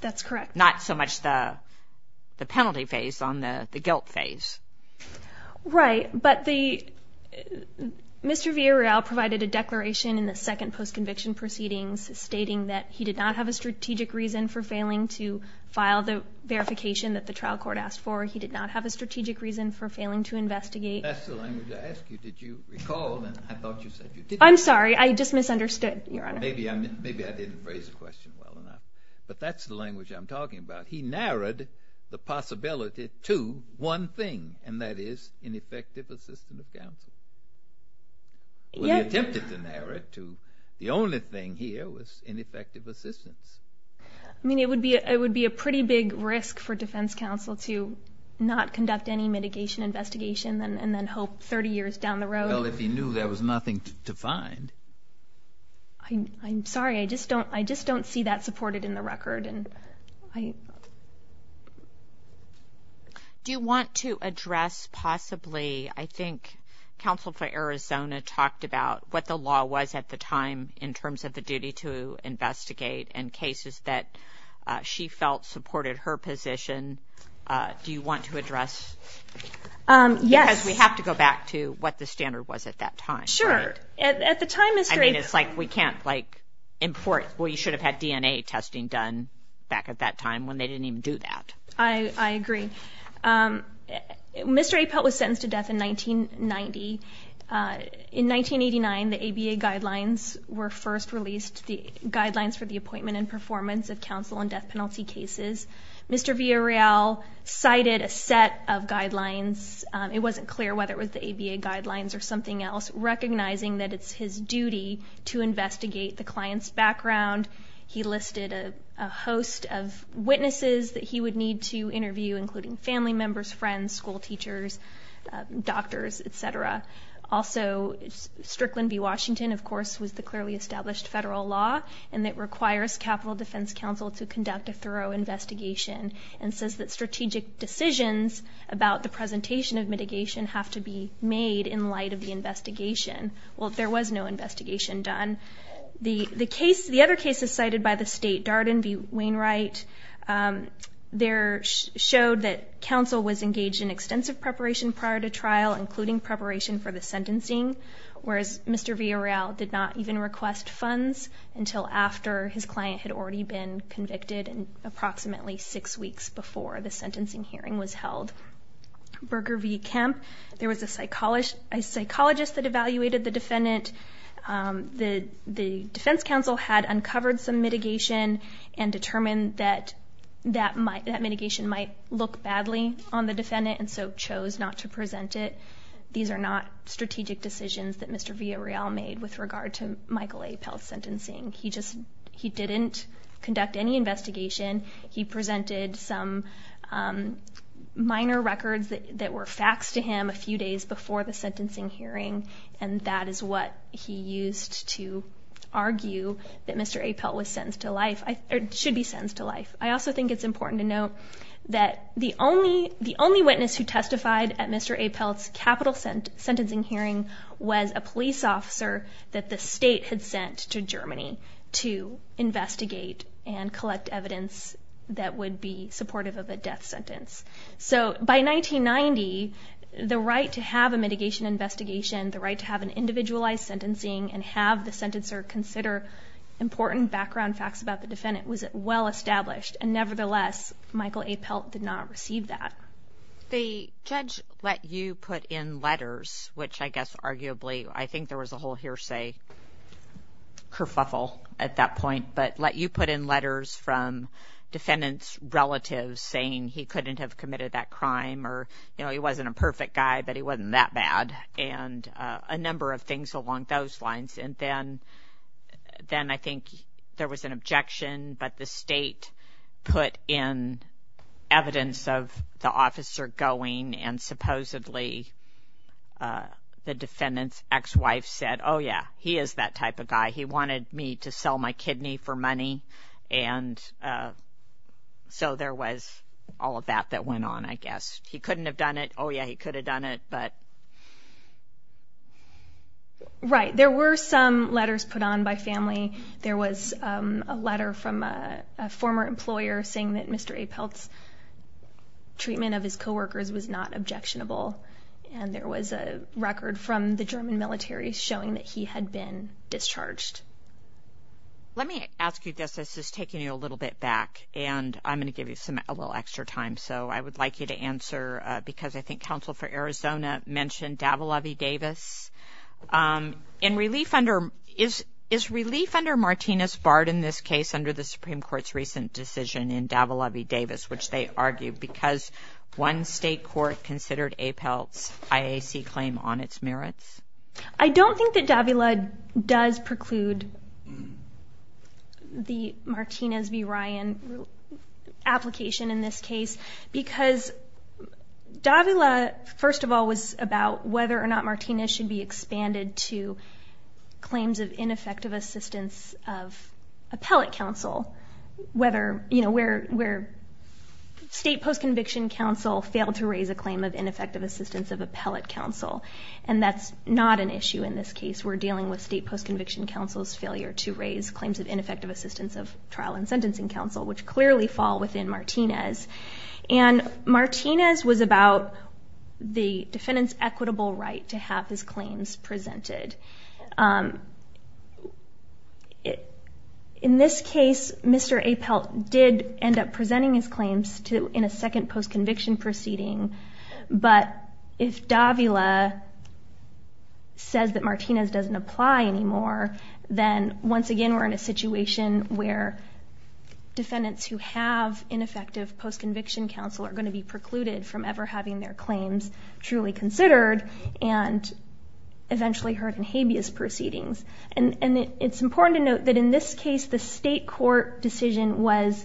That's correct. Not so much the penalty phase on the guilt phase. Right. But Mr. Villareal provided a declaration in the second post-conviction proceedings stating that he did not have a strategic reason for failing to file the verification that the trial court asked for. He did not have a strategic reason for failing to investigate. That's the language I asked you. Did you recall that? I thought you said you did. I'm sorry. I just misunderstood, Your Honor. Maybe I didn't phrase the question well enough. But that's the language I'm talking about. He narrowed the possibility to one thing and that is ineffective assistance of counsel. Well, he attempted to narrow it to the only thing here was ineffective assistance. I mean, it would be a pretty big risk for defense counsel to not conduct any mitigation investigation and then hope 30 years down the road. Well, if he knew there was nothing to find. I'm sorry. I just don't see that supported in the record. Do you want to address possibly, I think counsel for Arizona talked about what the law was at the time in terms of the duty to investigate in cases that she felt supported her position. Do you want to address? Yes. Because we have to go back to what the standard was at that time. Sure. At the time... I mean, it's like we can't import, well, you should have had DNA testing done. Back at that time when they didn't even do that. I agree. Mr. Apel was sentenced to death in 1990. In 1989, the ABA guidelines were first released. The guidelines for the appointment and performance of counsel in death penalty cases. Mr. Villareal cited a set of guidelines. It wasn't clear whether it was the ABA guidelines or something else, recognizing that it's his duty to investigate the client's background. He listed a host of witnesses that he would need to interview, including family members, friends, school teachers, doctors, et cetera. Also, Strickland v. Washington, of course, was the clearly established federal law and it requires Capitol Defense Counsel to conduct a thorough investigation and says that strategic decisions about the presentation of mitigation have to be made in light of the investigation. Well, there was no investigation done. The other cases cited by the state, Darden v. Wainwright, showed that counsel was engaged in extensive preparation prior to trial, including preparation for the sentencing, whereas Mr. Villareal did not even request funds until after his client had already been convicted and approximately six weeks before the sentencing hearing was held. Berger v. Kemp, there was a psychologist that evaluated the defendant. The defense counsel had uncovered some mitigation and determined that that mitigation might look badly on the defendant and so chose not to present it. These are not strategic decisions that Mr. Villareal made with regard to Michael A. Pell's sentencing. He didn't conduct any investigation. He presented some minor records that were faxed to him a few days before the sentencing hearing and that is what he used to argue that Mr. A. Pell should be sentenced to life. I also think it's important to note that the only witness who testified at Mr. A. Pell's capital sentencing hearing was a police officer that the state had sent to Germany to investigate and collect evidence that would be supportive of a death sentence. So by 1990, the right to have a mitigation investigation, the right to have an individualized sentencing and have the sentencer consider important background facts about the defendant was well established and nevertheless, Michael A. Pell did not receive that. The judge let you put in letters, which I guess arguably, I think there was a whole hearsay kerfuffle at that point, but let you put in letters from defendant's relatives saying he couldn't have committed that crime or he wasn't a perfect guy, but he wasn't that bad and a number of things along those lines. And then I think there was an objection, but the state put in evidence of the officer going and supposedly the defendant's ex-wife said, oh yeah, he is that type of guy. He wanted me to sell my kidney for money and so there was all of that that went on, I guess. He couldn't have done it. Oh yeah, he could have done it, but... Right, there were some letters put on by family. There was a letter from a former employer saying that Mr. A. Pell's treatment of his coworkers was not objectionable and there was a record from the German military showing that he had been discharged. Let me ask you this, this is taking you a little bit back and I'm going to give you a little extra time, so I would like you to answer, because I think Counsel for Arizona mentioned Davila v. Davis. Is relief under Martinez barred in this case under the Supreme Court's recent decision in Davila v. Davis, which they argued because one state court considered A. Pell's IAC claim on its merits? I don't think that Davila does preclude the Martinez v. Ryan application in this case, because Davila, first of all, was about whether or not Martinez should be expanded to claims of ineffective assistance of appellate counsel, where state post-conviction counsel failed to raise a claim of ineffective assistance of appellate counsel, and that's not an issue in this case. We're dealing with state post-conviction counsel's failure to raise claims of ineffective assistance of trial and sentencing counsel, which clearly fall within Martinez. And Martinez was about the defendant's equitable right to have his claims presented. In this case, Mr. A. Pell did end up presenting his claims in a second post-conviction proceeding, but if Davila says that Martinez doesn't apply anymore, then once again we're in a situation where defendants who have ineffective post-conviction counsel are going to be precluded from ever having their claims truly considered and eventually heard in habeas proceedings. And it's important to note that in this case, the state court decision was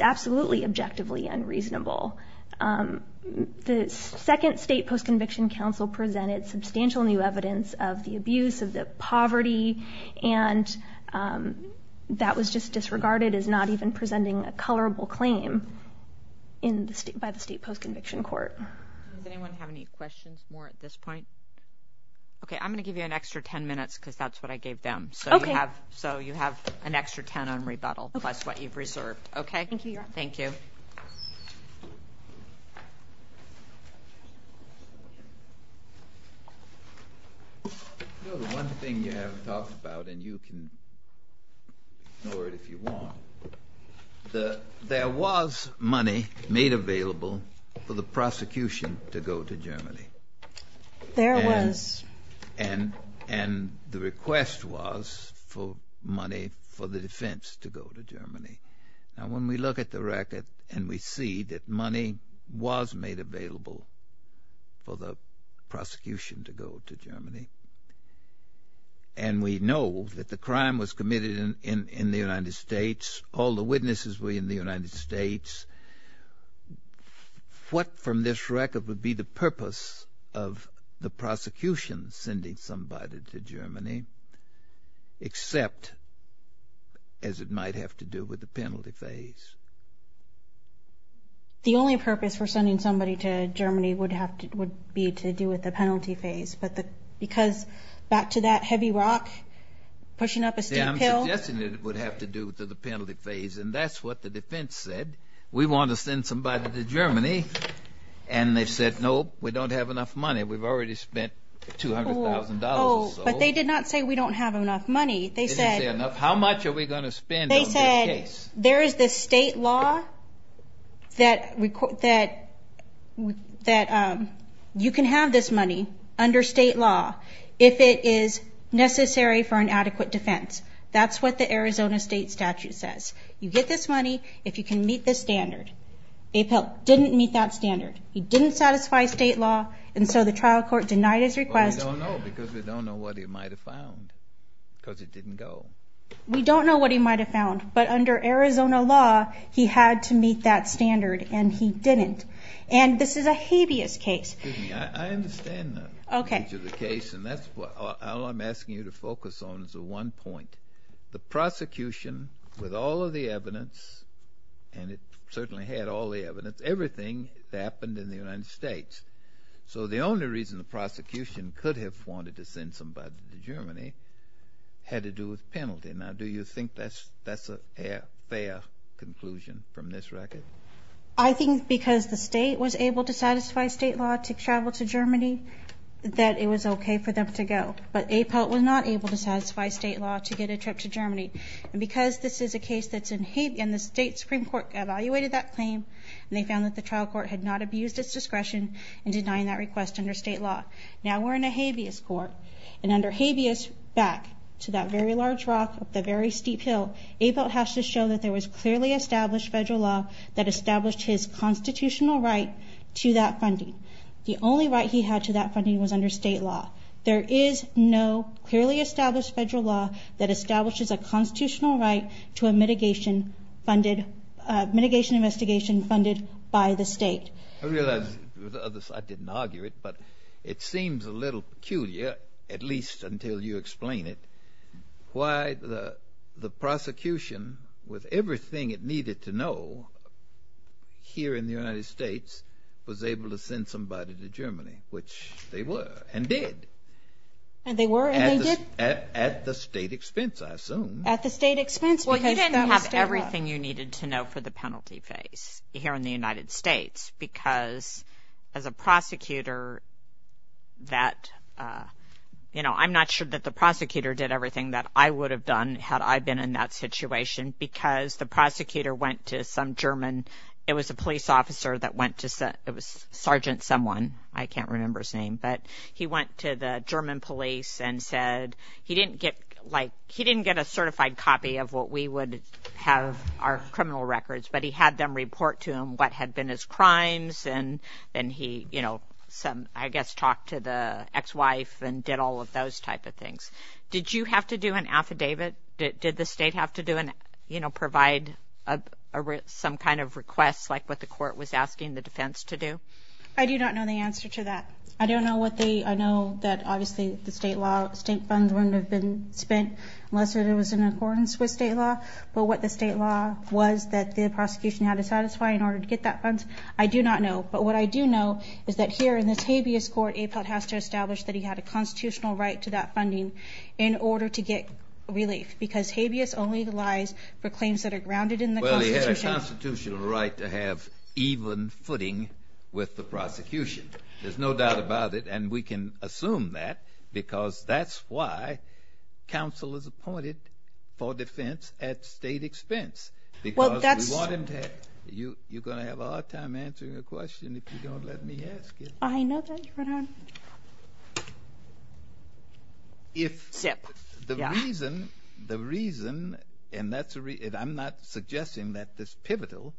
absolutely objectively unreasonable. The second state post-conviction counsel presented substantial new evidence of the abuse, of the poverty, and that was just disregarded as not even presenting a colorable claim by the state post-conviction court. Does anyone have any questions more at this point? Okay, I'm going to give you an extra 10 minutes because that's what I gave them. So you have an extra 10 on rebuttal plus what you've reserved. Okay, thank you. The one thing you haven't talked about, and you can ignore it if you want, there was money made available for the prosecution to go to Germany. There was. And the request was for money for the defense to go to Germany. Now, when we look at the record and we see that money was made available for the prosecution to go to Germany, and we know that the crime was committed in the United States, all the witnesses were in the United States, what from this record would be the purpose of the prosecution sending somebody to Germany except as it might have to do with the penalty phase? The only purpose for sending somebody to Germany would be to do with the penalty phase because back to that heavy rock, pushing up a steep hill... Yeah, I'm suggesting it would have to do with the penalty phase, and that's what the defense said. We want to send somebody to Germany. And they said, nope, we don't have enough money. We've already spent $200,000. But they did not say we don't have enough money. They said... How much are we going to spend on this case? They said there is a state law that you can have this money under state law if it is necessary for an adequate defense. That's what the Arizona state statute says. You get this money if you can meet this standard. Apel didn't meet that standard. He didn't satisfy state law, and so the trial court denied his request. Well, we don't know because we don't know what he might have found because he didn't go. We don't know what he might have found, but under Arizona law, he had to meet that standard, and he didn't. And this is a hideous case. Excuse me, I understand the nature of the case, and that's what I'm asking you to focus on is the one point. The prosecution, with all of the evidence, and it certainly had all the evidence, everything that happened in the United States. So the only reason the prosecution could have wanted to send somebody to Germany had to do with penalty. Now, do you think that's a fair conclusion from this record? I think that it was okay for them to go, but Apel was not able to satisfy state law to get a trip to Germany. And because this is a case that's in habeas, and the state Supreme Court evaluated that claim, and they found that the trial court had not abused its discretion in denying that request under state law. Now we're in a habeas court, and under habeas back to that very large rock up the very steep hill, Apel has to show that there was clearly established federal law that established his constitutional right to that funding. The only right he had to that funding was under state law. There is no clearly established federal law that establishes a constitutional right to a mitigation investigation funded by the state. I realize I didn't argue it, but it seems a little peculiar, at least until you explain it, why the prosecution, with everything it needed to know, here in the United States, was able to send somebody to Germany, which they were, and did. And they were, and they did? At the state expense, I assume. At the state expense. Well, you didn't have everything you needed to know for the penalty phase here in the United States, because as a prosecutor that, you know, I'm not sure that the prosecutor did everything that I would have done had I been in that situation, because the prosecutor went to some German, it was a police officer that went to, it was Sergeant someone, I can't remember his name, but he went to the German police and said, he didn't get a certified copy of what we would have our criminal records, but he had them report to him what had been his crimes, and then he, you know, I guess talked to the ex-wife and did all of those type of things. Did you have to do an affidavit? Did the state have to do an, you know, provide some kind of request, like what the court was asking the defense to do? I do not know the answer to that. I don't know what the, I know that obviously the state law, the state funds wouldn't have been spent unless there was an accordance with state law, but what the state law was that the prosecution had to satisfy in order to get that fund, I do not know. But what I do know is that here in this habeas court, APOT has to establish that he had a constitutional right to that funding in order to get relief, because habeas only lies for claims that are grounded in the constitution. Well, he had a constitutional right to have even footing with the prosecution. There's no doubt about it, and we can assume that because that's why counsel is appointed for defense at state expense, because we want him to have, you're going to have a hard time answering your question I know that, Your Honor. If the reason, and I'm not suggesting that this is pivotal,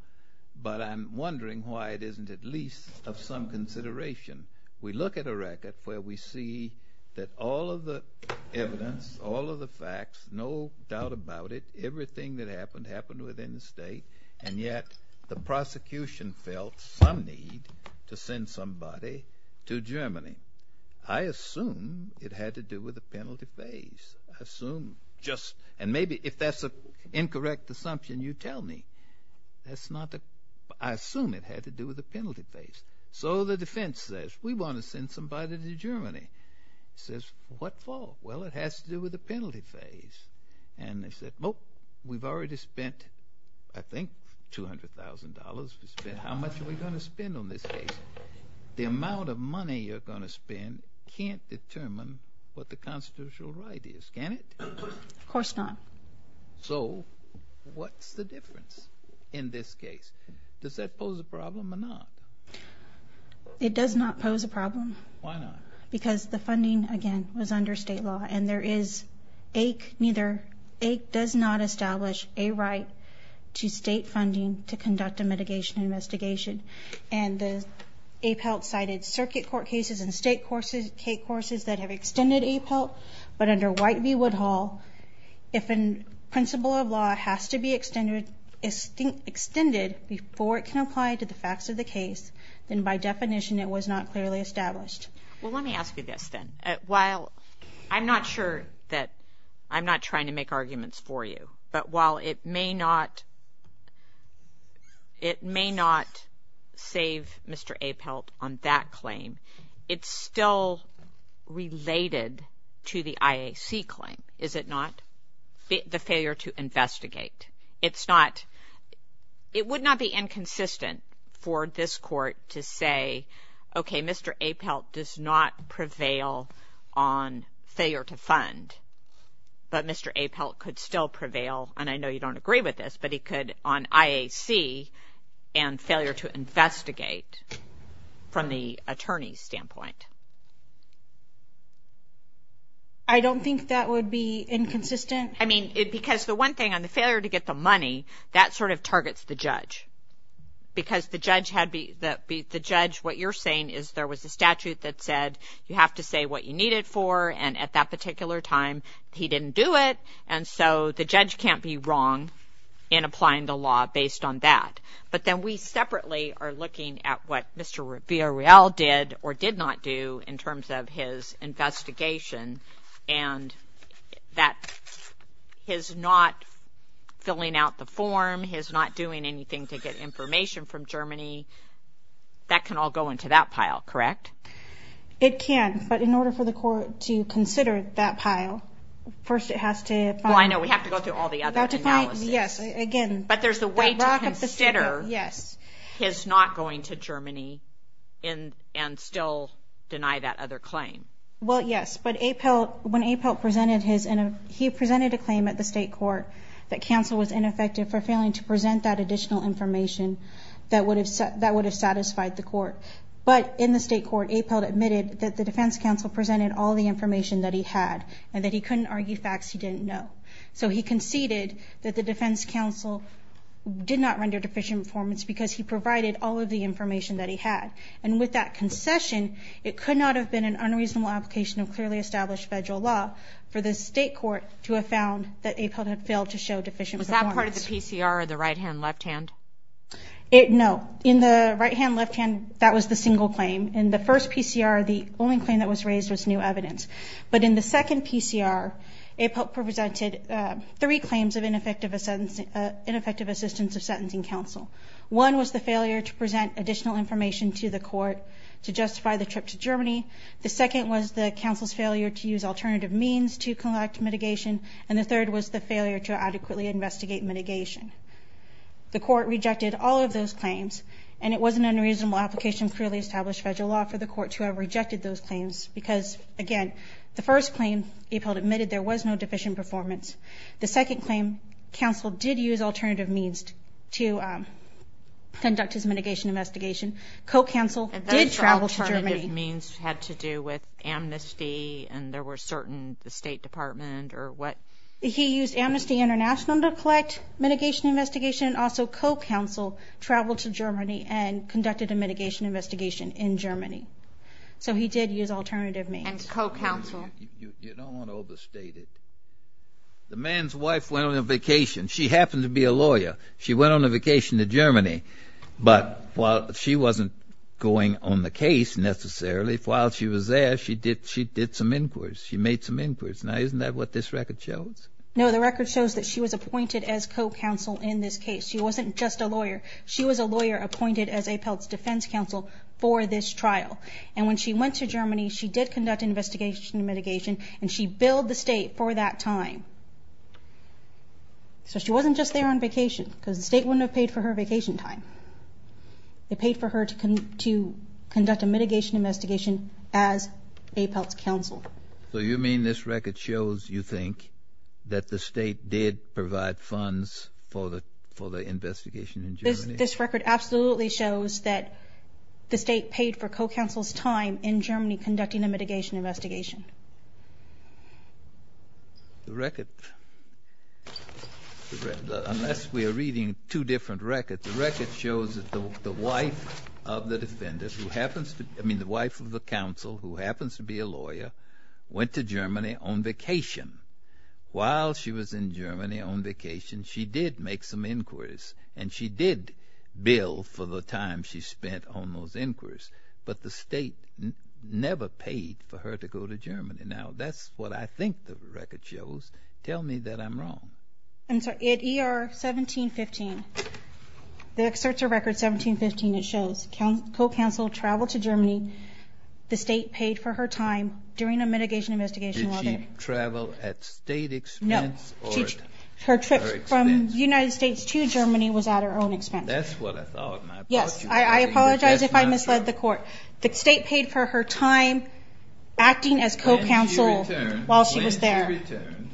but I'm wondering why it isn't at least of some consideration. We look at a record where we see that all of the evidence, all of the facts, no doubt about it, everything that happened, happened within the state, and yet the prosecution felt some need to send somebody to Germany. I assume it had to do with the penalty phase. I assume just, and maybe if that's an incorrect assumption, you tell me. That's not the, I assume it had to do with the penalty phase. So the defense says, we want to send somebody to Germany. Says, what for? Well, it has to do with the penalty phase. And they said, nope, we've already spent, I think, $200,000. How much are we going to spend on this case? The amount of money you're going to spend can't determine what the constitutional right is, can it? Of course not. So what's the difference in this case? Does that pose a problem or not? It does not pose a problem. Why not? Because the funding, again, was under state law, and there is a, neither, it does not establish a right to state funding to conduct a mitigation investigation. And the APALT cited circuit court cases and state court cases that have extended APALT, but under White v. Woodhall, if a principle of law has to be extended before it can apply to the facts of the case, then by definition it was not clearly established. Well, let me ask you this, then. While I'm not sure that I'm not trying to make arguments for you, but while it may not save Mr. APALT on that claim, it's still related to the IAC claim, is it not? The failure to investigate. It's not, it would not be inconsistent for this court to say, okay, Mr. APALT does not prevail on failure to fund, but Mr. APALT could still prevail, and I know you don't agree with this, but he could on IAC and failure to investigate from the attorney's standpoint. I don't think that would be inconsistent. I mean, because the one thing on the failure to get the money, that sort of targets the judge, because the judge, what you're saying is there was a statute that said you have to say what you need it for, and at that particular time he didn't do it, and so the judge can't be wrong in applying the law based on that. But then we separately are looking at what Mr. Villarreal did or did not do in terms of his investigation, and that his not filling out the form, his not doing anything to get information from Germany, that can all go into that pile, correct? It can, but in order for the court to consider that pile, first it has to fund. Well, I know, we have to go through all the other analyses. Yes, again. But there's a way to consider his not going to Germany and still deny that other claim. Well, yes, but APALT, when APALT presented his, he presented a claim at the state court that counsel was ineffective for failing to present that additional information that would have satisfied the court. But in the state court, APALT admitted that the defense counsel presented all the information that he had and that he couldn't argue facts he didn't know. So he conceded that the defense counsel did not render deficient performance because he provided all of the information that he had. And with that concession, it could not have been an unreasonable application of clearly established federal law for the state court to have found that APALT had failed to show deficient performance. Was that part of the PCR or the right-hand, left-hand? No. In the right-hand, left-hand, that was the single claim. In the first PCR, the only claim that was raised was new evidence. But in the second PCR, APALT presented three claims of ineffective assistance to sentencing counsel. One was the failure to present additional information to the court to justify the trip to Germany. The second was the counsel's failure to use alternative means to conduct mitigation, and the third was the failure to adequately investigate mitigation. The court rejected all of those claims, and it was an unreasonable application of clearly established federal law for the court to have rejected those claims because, again, the first claim, APALT admitted there was no deficient performance. The second claim, counsel did use alternative means to conduct his mitigation investigation. Co-counsel did travel to Germany. If those alternative means had to do with amnesty and there were certain the State Department or what? He used Amnesty International to collect mitigation investigation, and also co-counsel traveled to Germany and conducted a mitigation investigation in Germany. So he did use alternative means. And co-counsel. You don't want to overstate it. The man's wife went on a vacation. She happened to be a lawyer. She went on a vacation to Germany, but while she wasn't going on the case necessarily, while she was there, she did some inquiries. She made some inquiries. Now, isn't that what this record shows? No, the record shows that she was appointed as co-counsel in this case. She wasn't just a lawyer. She was a lawyer appointed as APALT's defense counsel for this trial. And when she went to Germany, she did conduct investigation and mitigation, and she billed the State for that time. So she wasn't just there on vacation because the State wouldn't have paid for her vacation time. They paid for her to conduct a mitigation investigation as APALT's counsel. So you mean this record shows, you think, that the State did provide funds for the investigation in Germany? This record absolutely shows that the State paid for co-counsel's time in Germany conducting the mitigation investigation. The record, unless we are reading two different records, the record shows that the wife of the counsel, who happens to be a lawyer, went to Germany on vacation. While she was in Germany on vacation, she did make some inquiries, and she did bill for the time she spent on those inquiries. But the State never paid for her to go to Germany. Now, that's what I think the record shows. Tell me that I'm wrong. In ER 1715, the Excerpt of Record 1715, it shows co-counsel traveled to Germany. The State paid for her time during a mitigation investigation. Did she travel at State expense? No. From the United States to Germany was at her own expense. That's what I thought. Yes, I apologize if I misled the Court. The State paid for her time acting as co-counsel while she was there. When she returned,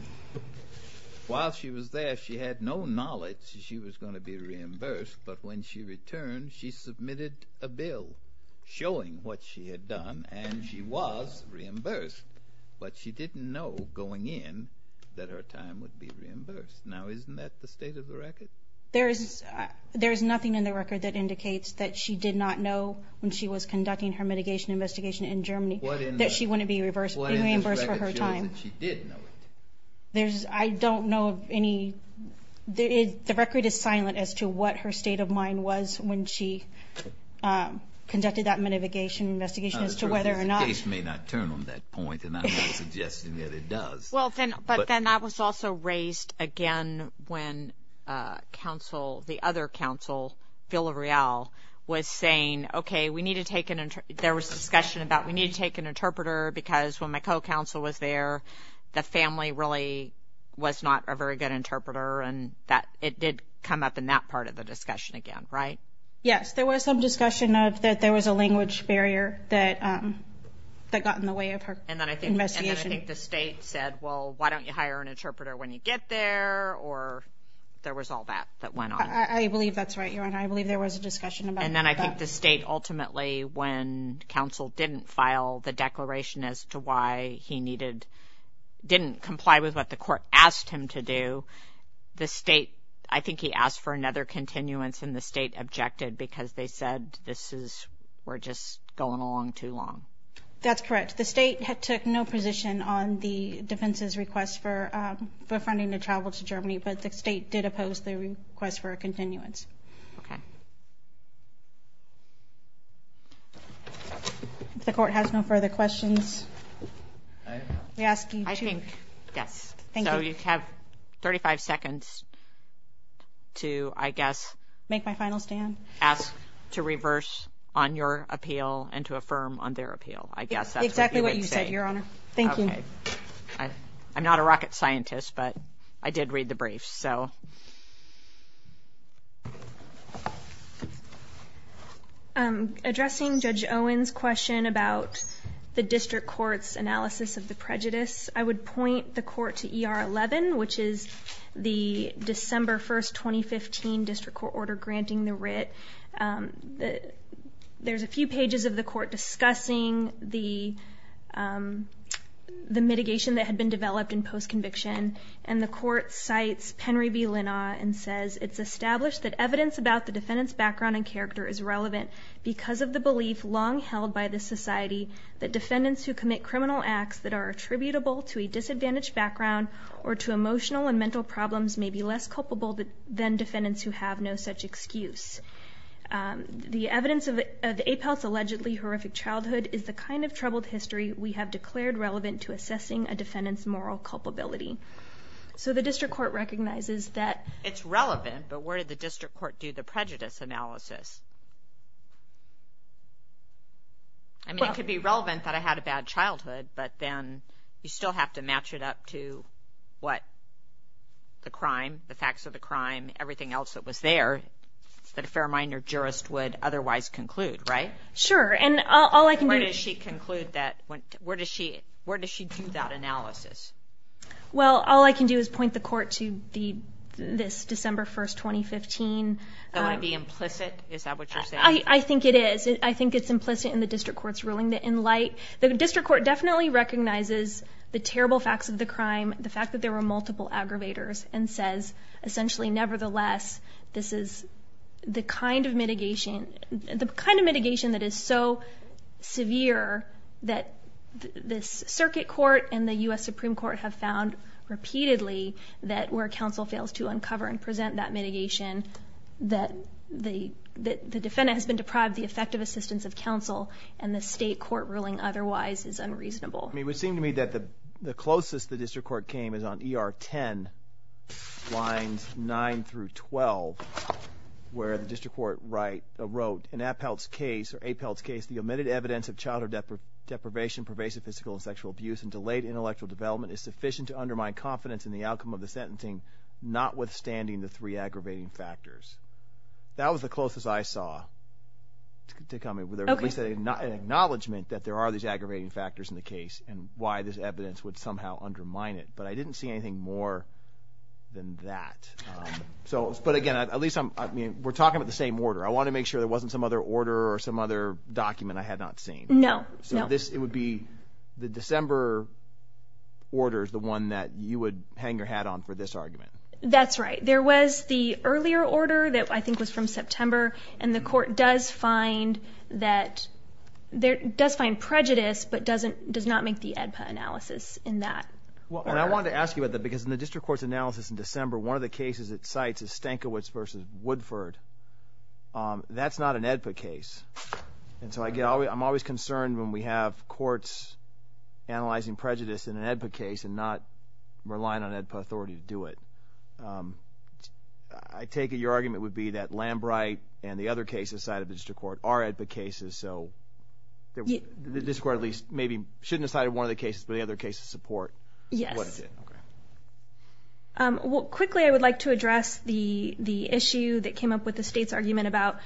while she was there, she had no knowledge that she was going to be reimbursed. But when she returned, she submitted a bill showing what she had done, and she was reimbursed, but she didn't know going in that her time would be reimbursed. Now, isn't that the state of the record? There is nothing in the record that indicates that she did not know when she was conducting her mitigation investigation in Germany that she wouldn't be reimbursed for her time. I don't know of any. The record is silent as to what her state of mind was when she conducted that mitigation investigation as to whether or not. The case may not turn on that point, and I'm not suggesting that it does. But then that was also raised again when the other counsel, Villareal, was saying, okay, there was discussion about we need to take an interpreter because when my co-counsel was there, the family really was not a very good interpreter, and it did come up in that part of the discussion again, right? Yes, there was some discussion that there was a language barrier that got in the way of her investigation. And then I think the state said, well, why don't you hire an interpreter when you get there, or there was all that that went on. I believe that's right, Your Honor. I believe there was a discussion about that. And then I think the state ultimately, when counsel didn't file the declaration as to why he didn't comply with what the court asked him to do, I think he asked for another continuance, and the state objected because they said we're just going along too long. That's correct. The state took no position on the defense's request for funding to travel to Germany, but the state did oppose the request for a continuance. Okay. If the court has no further questions. I think that's it. So you have 35 seconds to, I guess, ask to reverse on your appeal and to affirm on their appeal. Exactly what you said, Your Honor. Thank you. I'm not a rocket scientist, but I did read the brief. Addressing Judge Owen's question about the district court's analysis of the prejudice, I would point the court to ER 11, which is the December 1, 2015, district court order granting the writ. There's a few pages of the court discussing the mitigation that had been developed in post-conviction, and the court cites Henry B. Linna and says, it's established that evidence about the defendant's background and character is relevant because of the belief long held by the society that defendants who commit criminal acts that are attributable to a disadvantaged background or to emotional and mental problems may be less culpable than defendants who have no such excuse. The evidence of APAL's allegedly horrific childhood is the kind of troubled history we have declared relevant to assessing a defendant's moral culpability. So the district court recognizes that. It's relevant, but where did the district court do the prejudice analysis? I mean, it could be relevant that I had a bad childhood, but then you still have to match it up to what the crime, the facts of the crime, everything else that was there that a fair-minded jurist would otherwise conclude, right? Sure, and all I can do... Where does she conclude that? Where does she do that analysis? Well, all I can do is point the court to this December 1, 2015... That would be implicit? Is that what you're saying? I think it is. I think it's implicit in the district court's ruling in light. The district court definitely recognizes the terrible facts of the crime, the fact that there were multiple aggravators, and says essentially nevertheless this is the kind of mitigation that is so severe that the circuit court and the U.S. Supreme Court have found repeatedly that where counsel fails to uncover and present that mitigation, that the defendant has been deprived the effective assistance of counsel, and the state court ruling otherwise is unreasonable. I mean, it would seem to me that the closest the district court came is on ER 10, lines 9 through 12, where the district court wrote, in Appel's case, the omitted evidence of childhood deprivation, pervasive physical and sexual abuse, and delayed intellectual development is sufficient to undermine confidence in the outcome of the sentencing, notwithstanding the three aggravating factors. That was the closest I saw to coming, with at least an acknowledgement that there are these aggravating factors in the case and why this evidence would somehow undermine it. But I didn't see anything more than that. But again, at least we're talking about the same order. I want to make sure there wasn't some other order or some other document I had not seen. No, no. It would be the December order is the one that you would hang your hat on for this argument. That's right. There was the earlier order that I think was from September, and the court does find prejudice but does not make the AEDPA analysis in that order. I wanted to ask you about that because in the district court's analysis in December, one of the cases it cites is Stankiewicz v. Woodford. That's not an AEDPA case. I'm always concerned when we have courts analyzing prejudice in an AEDPA case and not relying on AEDPA authorities to do it. I take it your argument would be that Lambright and the other cases cited in the district court are AEDPA cases, so the district court at least maybe shouldn't have cited one of the cases, but the other cases support what it did. Well, quickly I would like to address the issue that came up with the state's argument about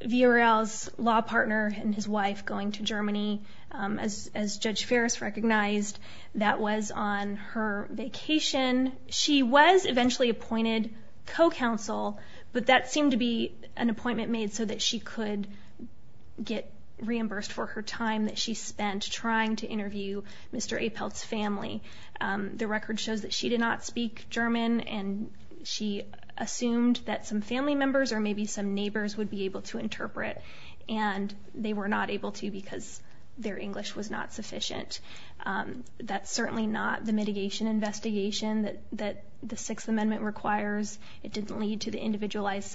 Vurel's law partner and his wife going to Germany. As Judge Ferris recognized, that was on her vacation. She was eventually appointed co-counsel, but that seemed to be an appointment made so that she could get reimbursed for her time that she spent trying to interview Mr. Apel's family. The record shows that she did not speak German, and she assumed that some family members or maybe some neighbors would be able to interpret, and they were not able to because their English was not sufficient. That's certainly not the mitigation investigation that the Sixth Amendment requires. It didn't lead to the individualized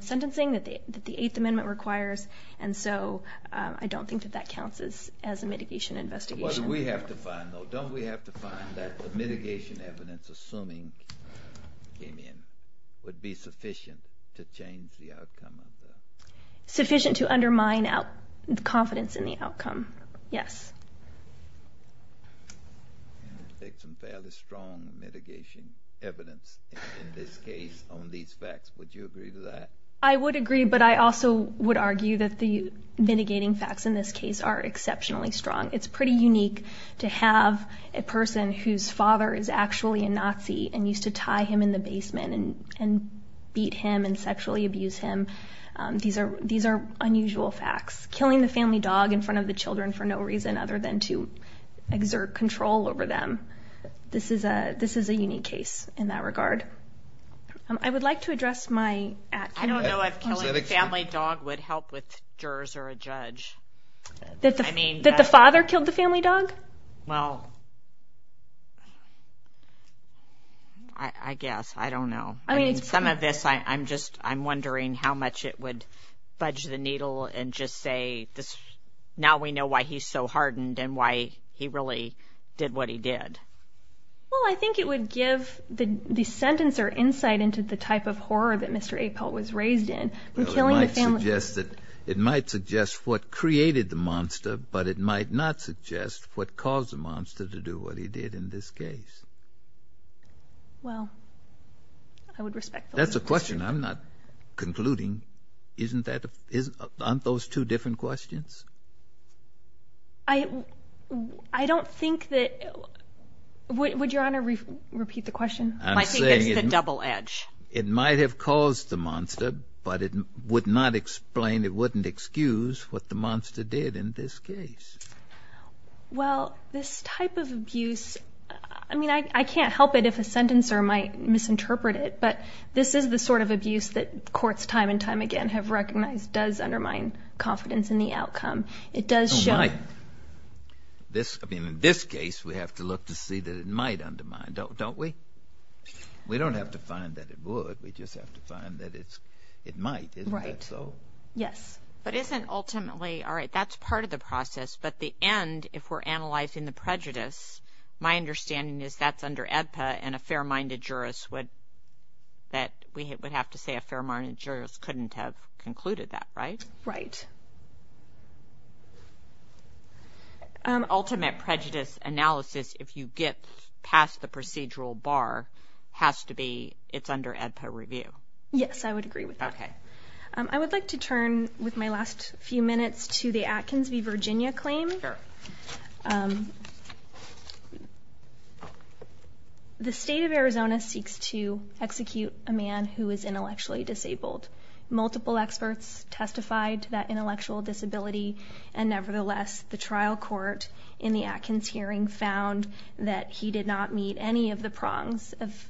sentencing that the Eighth Amendment requires, and so I don't think that that counts as a mitigation investigation. What do we have to find, though? Don't we have to find that the mitigation evidence, assuming opinion, would be sufficient to change the outcome of this? Sufficient to undermine confidence in the outcome, yes. Take some fairly strong mitigation evidence in this case on these facts. Would you agree to that? I would agree, but I also would argue that the mitigating facts in this case are exceptionally strong. It's pretty unique to have a person whose father is actually a Nazi and used to tie him in the basement and beat him and sexually abuse him. These are unusual facts. Killing the family dog in front of the children for no reason other than to exert control over them, this is a unique case in that regard. I would like to address my action. I don't know if killing the family dog would help with jurors or a judge. That the father killed the family dog? Well, I guess. I don't know. Some of this, I'm wondering how much it would budge the needle and just say, now we know why he's so hardened and why he really did what he did. Well, I think it would give the sentence or insight into the type of horror that Mr. Apel was raised in. Killing the family dog. It might suggest what created the monster, but it might not suggest what caused the monster to do what he did in this case. Well, I would respect that. That's a question I'm not concluding. Isn't that on those two different questions? I don't think that, would Your Honor repeat the question? I think it's a double edge. It might have caused the monster, but it would not explain, it wouldn't excuse what the monster did in this case. Well, this type of abuse, I mean, I can't help it if a sentencer might misinterpret it, but this is the sort of abuse that courts time and time again have recognized does undermine confidence in the outcome. It might. In this case, we have to look to see that it might undermine, don't we? We don't have to find that it would. We just have to find that it might. Isn't that so? Yes. But isn't ultimately, all right, that's part of the process, but the end, if we're analyzing the prejudice, my understanding is that's under AEDPA and a fair-minded jurist would, that we would have to say a fair-minded jurist couldn't have concluded that, right? Right. Ultimate prejudice analysis, if you get past the procedural bar, has to be, it's under AEDPA review. Yes, I would agree with that. Okay. I would like to turn, with my last few minutes, to the Atkins v. Virginia claim. Sure. Okay. The state of Arizona seeks to execute a man who is intellectually disabled. Multiple experts testified to that intellectual disability, and nevertheless the trial court in the Atkins hearing found that he did not meet any of the prongs of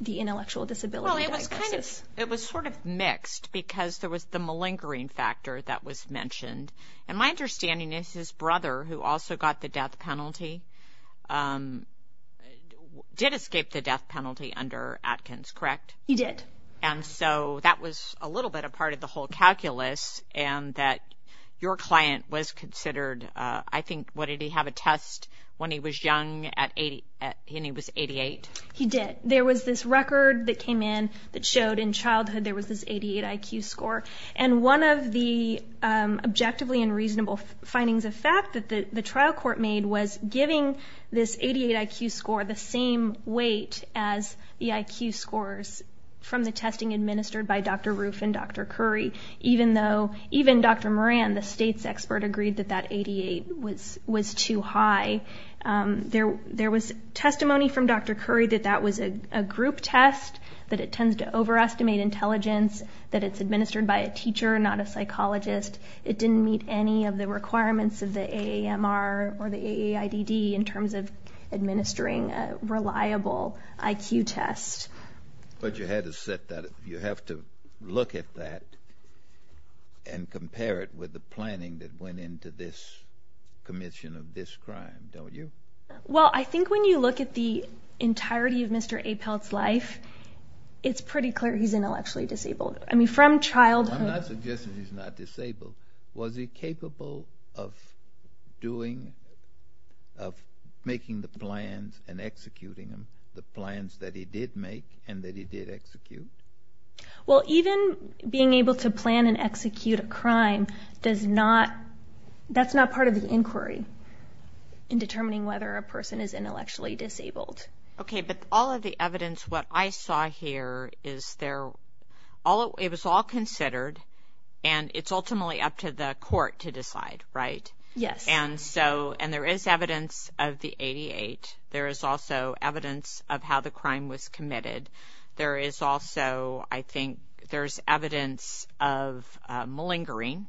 the intellectual disability. Well, it was kind of, it was sort of mixed because there was the malingering factor that was mentioned. And my understanding is his brother, who also got the death penalty, did escape the death penalty under Atkins, correct? He did. And so that was a little bit a part of the whole calculus, and that your client was considered, I think, what did he have a test when he was young and he was 88? He did. There was this record that came in that showed in childhood there was this 88 IQ score. And one of the objectively and reasonable findings of fact that the trial court made was giving this 88 IQ score the same weight as the IQ scores from the testing administered by Dr. Roof and Dr. Curry, even though, even Dr. Moran, the state's expert, agreed that that 88 was too high. There was testimony from Dr. Curry that that was a group test, that it tends to overestimate intelligence, that it's administered by a teacher and not a psychologist. It didn't meet any of the requirements of the AAMR or the AAIDD in terms of administering a reliable IQ test. But you had to set that up. You have to look at that and compare it with the planning that went into this commission of this crime, don't you? Well, I think when you look at the entirety of Mr. Apel's life, it's pretty clear he's intellectually disabled. I mean, from childhood… I'm not suggesting he's not disabled. Was he capable of doing, of making the plans and executing them, the plans that he did make and that he did execute? Well, even being able to plan and execute a crime, that's not part of his inquiry in determining whether a person is intellectually disabled. Okay, but all of the evidence, what I saw here, it was all considered and it's ultimately up to the court to decide, right? Yes. And there is evidence of the 88. There is also evidence of how the crime was committed. There is also, I think, there's evidence of malingering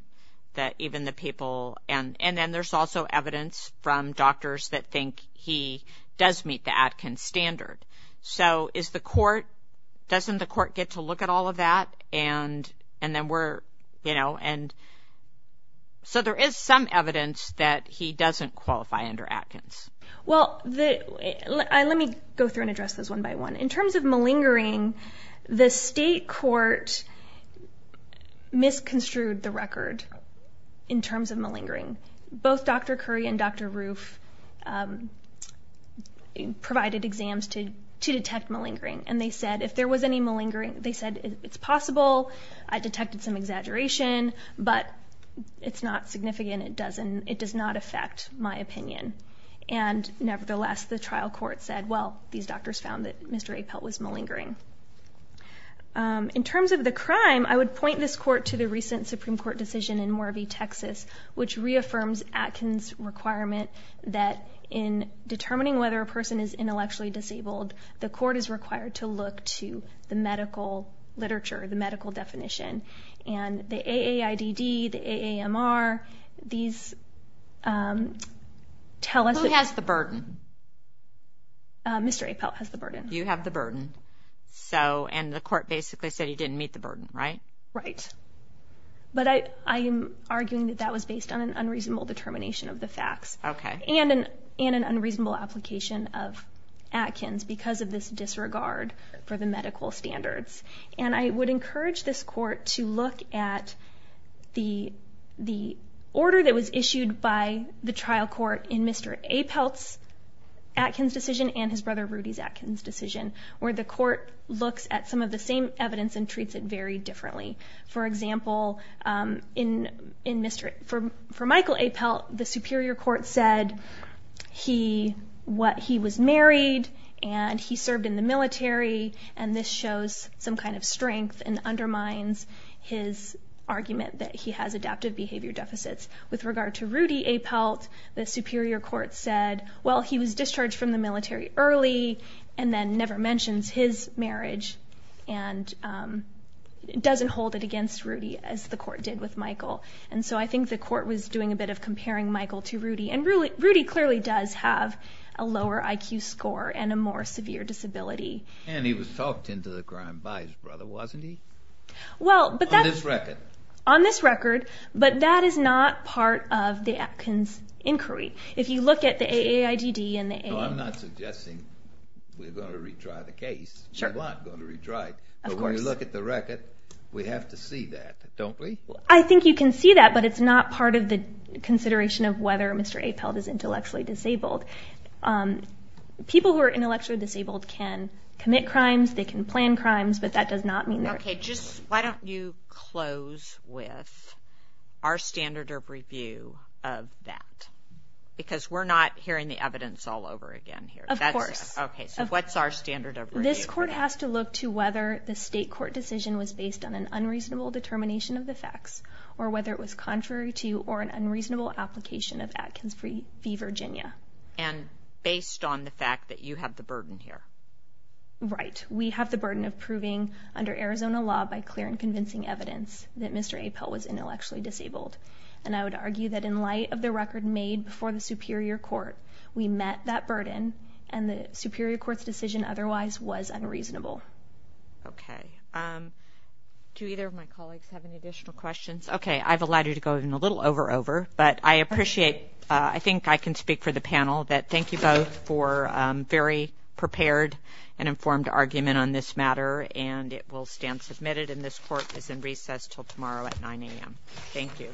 that even the people… And then there's also evidence from doctors that think he does meet the Atkins standard. So is the court… doesn't the court get to look at all of that? And then we're, you know… And so there is some evidence that he doesn't qualify under Atkins. Well, let me go through and address this one by one. In terms of malingering, the state court misconstrued the record in terms of malingering. Both Dr. Curry and Dr. Roof provided exams to detect malingering. And they said if there was any malingering, they said it's possible. I detected some exaggeration, but it's not significant. It does not affect my opinion. And nevertheless, the trial court said, well, these doctors found that Mr. Apel was malingering. In terms of the crime, I would point this court to the recent Supreme Court decision in Moravie, Texas, which reaffirms Atkins' requirement that in determining whether a person is intellectually disabled, the court is required to look to the medical literature, the medical definition. And the AAIDD, the AAMR, these… Who has the burden? Mr. Apel has the burden. You have the burden. And the court basically said he didn't meet the burden, right? Right. But I am arguing that that was based on an unreasonable determination of the facts. Okay. And an unreasonable application of Atkins because of this disregard for the medical standards. And I would encourage this court to look at the order that was issued by the trial court in Mr. Apel's Atkins decision and his brother Rudy's Atkins decision, where the court looks at some of the same evidence and treats it very differently. For example, for Michael Apel, the superior court said he was married and he served in the military, and this shows some kind of strength and undermines his argument that he has adaptive behavior deficits. With regard to Rudy Apel, the superior court said, well, he was discharged from the military early and then never mentions his marriage and doesn't hold it against Rudy as the court did with Michael. And so I think the court was doing a bit of comparing Michael to Rudy. And Rudy clearly does have a lower IQ score and a more severe disability. And he was talked into the ground by his brother, wasn't he? On this record. On this record, but that is not part of the Atkins inquiry. If you look at the AAIDD and the AA… So I'm not suggesting we're going to retry the case. Sure. We're not going to retry it. Of course. But when you look at the record, we have to see that, don't we? I think you can see that, but it's not part of the consideration of whether Mr. Apel is intellectually disabled. People who are intellectually disabled can commit crimes, they can plan crimes, but that does not mean… Okay, just why don't you close with our standard of review of that? Because we're not hearing the evidence all over again here. Of course. Okay, so what's our standard of review? This court has to look to whether the state court decision was based on an unreasonable determination of the facts or whether it was contrary to or an unreasonable application of Atkins v. Virginia. And based on the fact that you have the burden here. Right. We have the burden of proving under Arizona law by clear and convincing evidence that Mr. Apel was intellectually disabled. And I would argue that in light of the record made before the Superior Court, we met that burden, and the Superior Court's decision otherwise was unreasonable. Okay. Do either of my colleagues have any additional questions? Okay, I've allowed you to go in a little over-over, but I appreciate – I think I can speak for the panel that thank you both for a very prepared and informed argument on this matter, and it will stand submitted, and this court is in recess until tomorrow at 9 a.m. Thank you.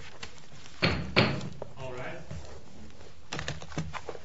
All rise.